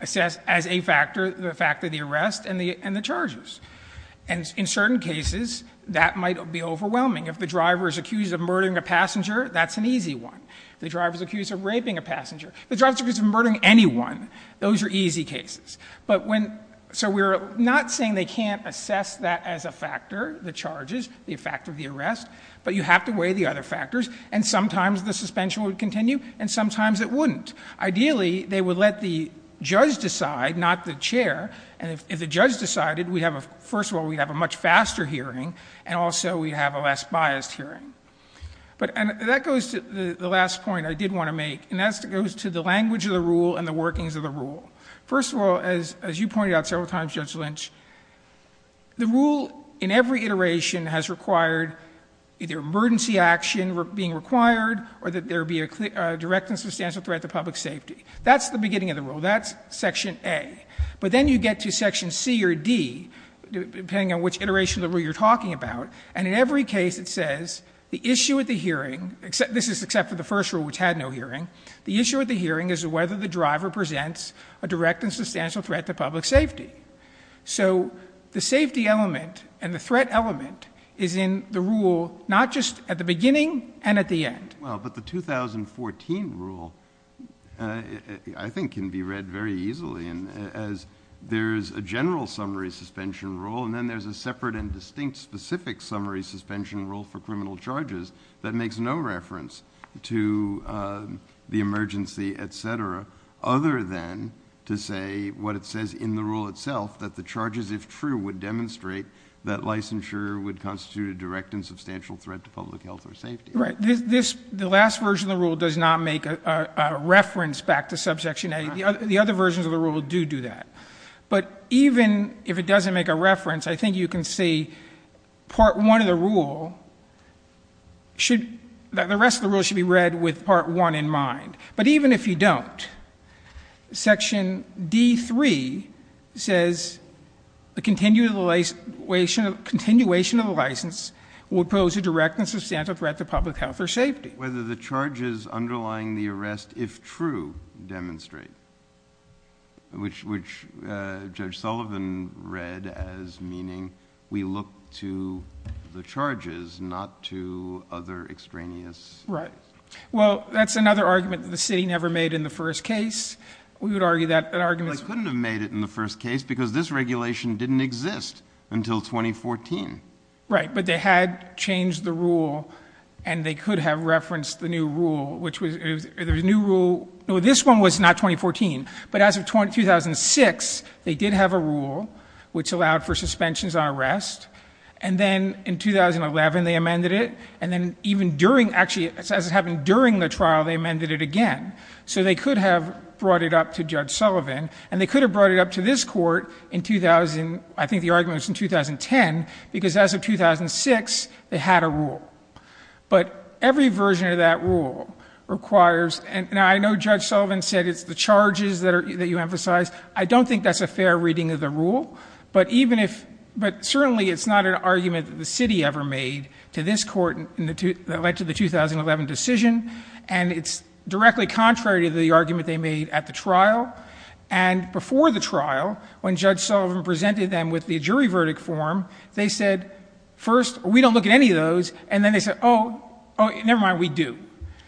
assess as a factor the fact of the arrest and the charges. And in certain cases, that might be overwhelming. If the driver is accused of murdering a passenger, that's an easy one. If the driver is accused of raping a passenger. If the driver is accused of murdering anyone. Those are easy cases. So we're not saying they can't assess that as a factor, the charges, the fact of the arrest, but you have to weigh the other factors. And sometimes the suspension would continue, and sometimes it wouldn't. Ideally, they would let the judge decide, not the chair. And if the judge decided, first of all, we have a much faster hearing, and also we have a less biased hearing. And that goes to the last point I did want to make, and that goes to the language of the rule and the workings of the rule. First of all, as you pointed out several times, Judge Lynch, the rule in every iteration has required either emergency action being required or that there be a direct and substantial threat to public safety. That's the beginning of the rule. That's Section A. But then you get to Section C or D, depending on which iteration of the rule. And in every case it says the issue of the hearing, this is except for the first rule which had no hearing, the issue of the hearing is whether the driver presents a direct and substantial threat to public safety. So the safety element and the threat element is in the rule, not just at the beginning and at the end. Well, but the 2014 rule, I think, can be read very easily as there is a general summary suspension rule, and then there's a separate and distinct specific summary suspension rule for criminal charges that makes no reference to the emergency, et cetera, other than to say what it says in the rule itself, that the charges, if true, would demonstrate that licensure would constitute a direct and substantial threat to public health or safety. Right. The last version of the rule does not make a reference back to Subsection 90. The other versions of the rule do do that. But even if it doesn't make a reference, I think you can see Part 1 of the rule should – the rest of the rule should be read with Part 1 in mind. But even if you don't, Section D.3 says the continuation of the license would pose a direct and substantial threat to public health or safety. Right. Whether the charges underlying the arrest, if true, demonstrate, which Judge Sullivan read as meaning we look to the charges, not to other extraneous – Right. Well, that's another argument the city never made in the first case. We would argue that argument – They couldn't have made it in the first case because this regulation didn't exist until 2014. Right. But they had changed the rule, and they could have referenced the new rule, which was – There's a new rule – No, this one was not 2014. But as of 2006, they did have a rule which allowed for suspensions on arrest. And then in 2011, they amended it. And then even during – actually, as it happened during the trial, they amended it again. So they could have brought it up to Judge Sullivan. And they could have brought it up to this court in 2000 – I think the argument was in 2010, because as of 2006, they had a rule. But every version of that rule requires – And I know Judge Sullivan said it's the charges that you emphasized. I don't think that's a fair reading of the rule. But even if – but certainly it's not an argument the city ever made to this court that led to the 2011 decision. And it's directly contrary to the argument they made at the trial. And before the trial, when Judge Sullivan presented them with the jury verdict form, they said, first, we don't look at any of those. And then they said, oh, never mind, we do.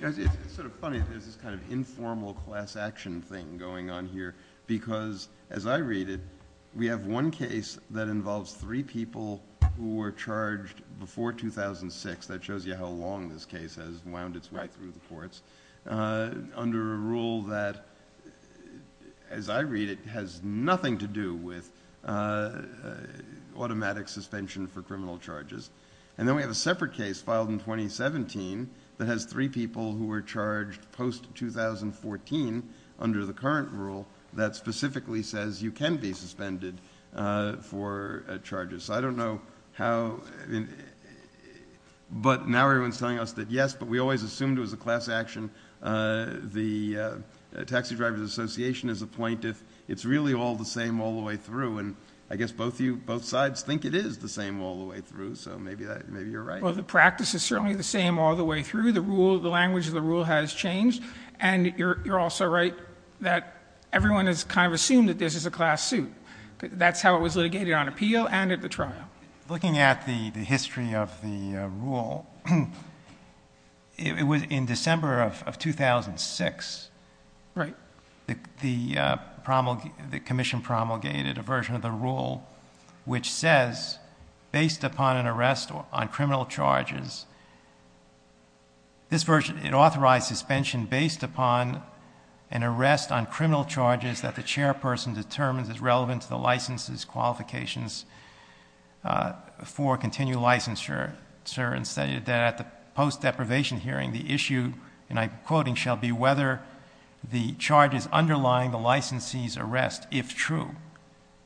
It's sort of funny. There's this kind of informal class action thing going on here, because as I read it, we have one case that involves three people who were charged before 2006. That shows you how long this case has wound its way through the courts. Under a rule that, as I read it, has nothing to do with automatic suspension for criminal charges. And then we have a separate case filed in 2017 that has three people who were charged post-2014, under the current rule, that specifically says you can be suspended for charges. So I don't know how – but now everyone's telling us that yes, but we always assumed it was a class action. The Taxi Drivers Association is a plaintiff. It's really all the same all the way through. And I guess both sides think it is the same all the way through, so maybe you're right. Well, the practice is certainly the same all the way through. The rule, the language of the rule has changed. And you're also right that everyone has kind of assumed that this is a class suit. That's how it was litigated on appeal and at the trial. Looking at the history of the rule, it was in December of 2006. Right. The commission promulgated a version of the rule which says, based upon an arrest on criminal charges, it authorized suspension based upon an arrest on criminal charges that the chairperson determines is relevant to the license's qualifications for continued licensure and say that post-deprivation hearing, the issue, and I'm quoting, shall be whether the charges underlying the licensee's arrest, if true,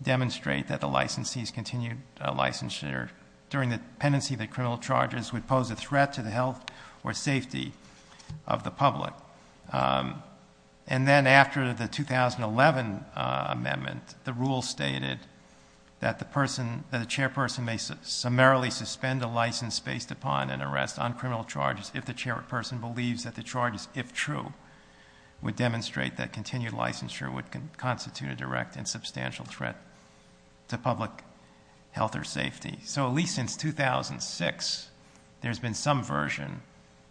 demonstrate that the licensee's continued licensure during the pendency of the criminal charges would pose a threat to the health or safety of the public. And then after the 2011 amendment, the rule stated that the chairperson may summarily suspend a license based upon an arrest on criminal charges if the chairperson believes that the charges, if true, would demonstrate that continued licensure would constitute a direct and substantial threat to public health or safety. So at least since 2006, there's been some version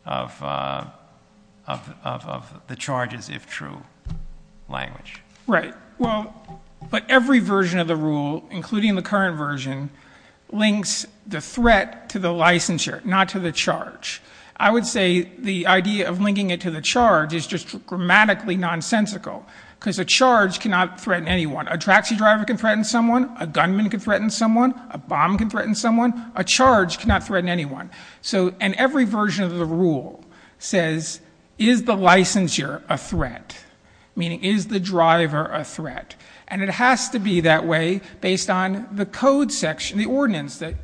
of the charges, if true, language. Right. Well, but every version of the rule, including the current version, links the threat to the licensure, not to the charge. I would say the idea of linking it to the charge is just grammatically nonsensical because a charge cannot threaten anyone. A taxi driver can threaten someone. A gunman can threaten someone. A bomb can threaten someone. A charge cannot threaten anyone. And every version of the rule says, is the licensure a threat? Meaning, is the driver a threat? And it has to be that way based on the code section, the ordinance that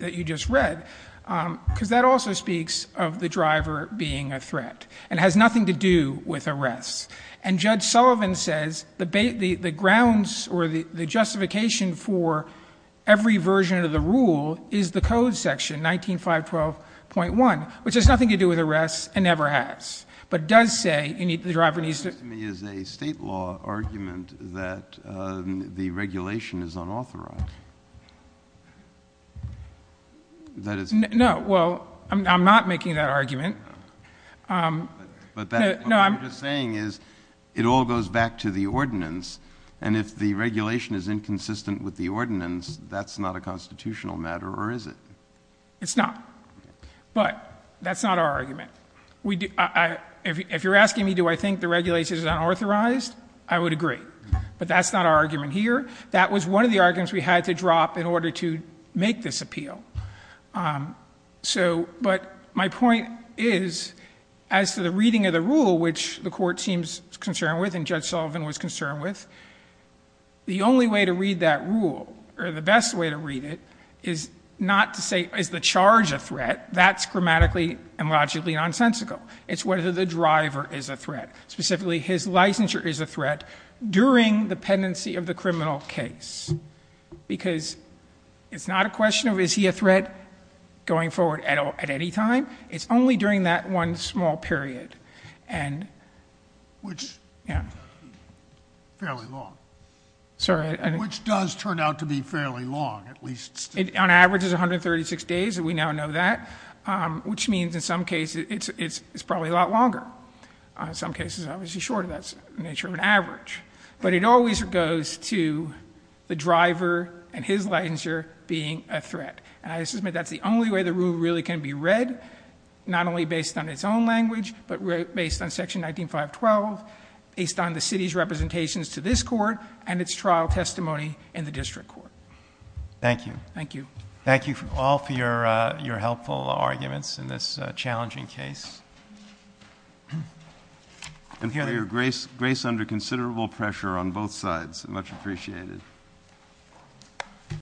you just read, because that also speaks of the driver being a threat. It has nothing to do with arrests. And Judge Sullivan says the grounds or the justification for every version of the rule is the code section, 19.512.1, which has nothing to do with arrests and never has, but does say the driver needs to be a threat. This is a state law argument that the regulation is unauthorized. No, well, I'm not making that argument. But what you're saying is it all goes back to the ordinance, and if the regulation is inconsistent with the ordinance, that's not a constitutional matter, or is it? It's not. But that's not our argument. If you're asking me do I think the regulation is unauthorized, I would agree. But that's not our argument here. That was one of the arguments we had to drop in order to make this appeal. But my point is, as to the reading of the rule, which the court seems concerned with and Judge Sullivan was concerned with, the only way to read that rule, or the best way to read it, is not to say is the charge a threat. That's grammatically and logically nonsensical. It's whether the driver is a threat, specifically his licensure is a threat during the pendency of the criminal case. Because it's not a question of is he a threat going forward at any time. It's only during that one small period. Which is fairly long. Sorry. Which does turn out to be fairly long, at least. On average it's 136 days, and we now know that, which means in some cases it's probably a lot longer. That's the nature of an average. But it always goes to the driver and his licensure being a threat. And I submit that's the only way the rule really can be read. Not only based on its own language, but based on section 9512, based on the city's representations to this court, and its trial testimony in the district court. Thank you. Thank you. Thank you all for your helpful arguments in this challenging case. And we have your grace under considerable pressure on both sides. Much appreciated.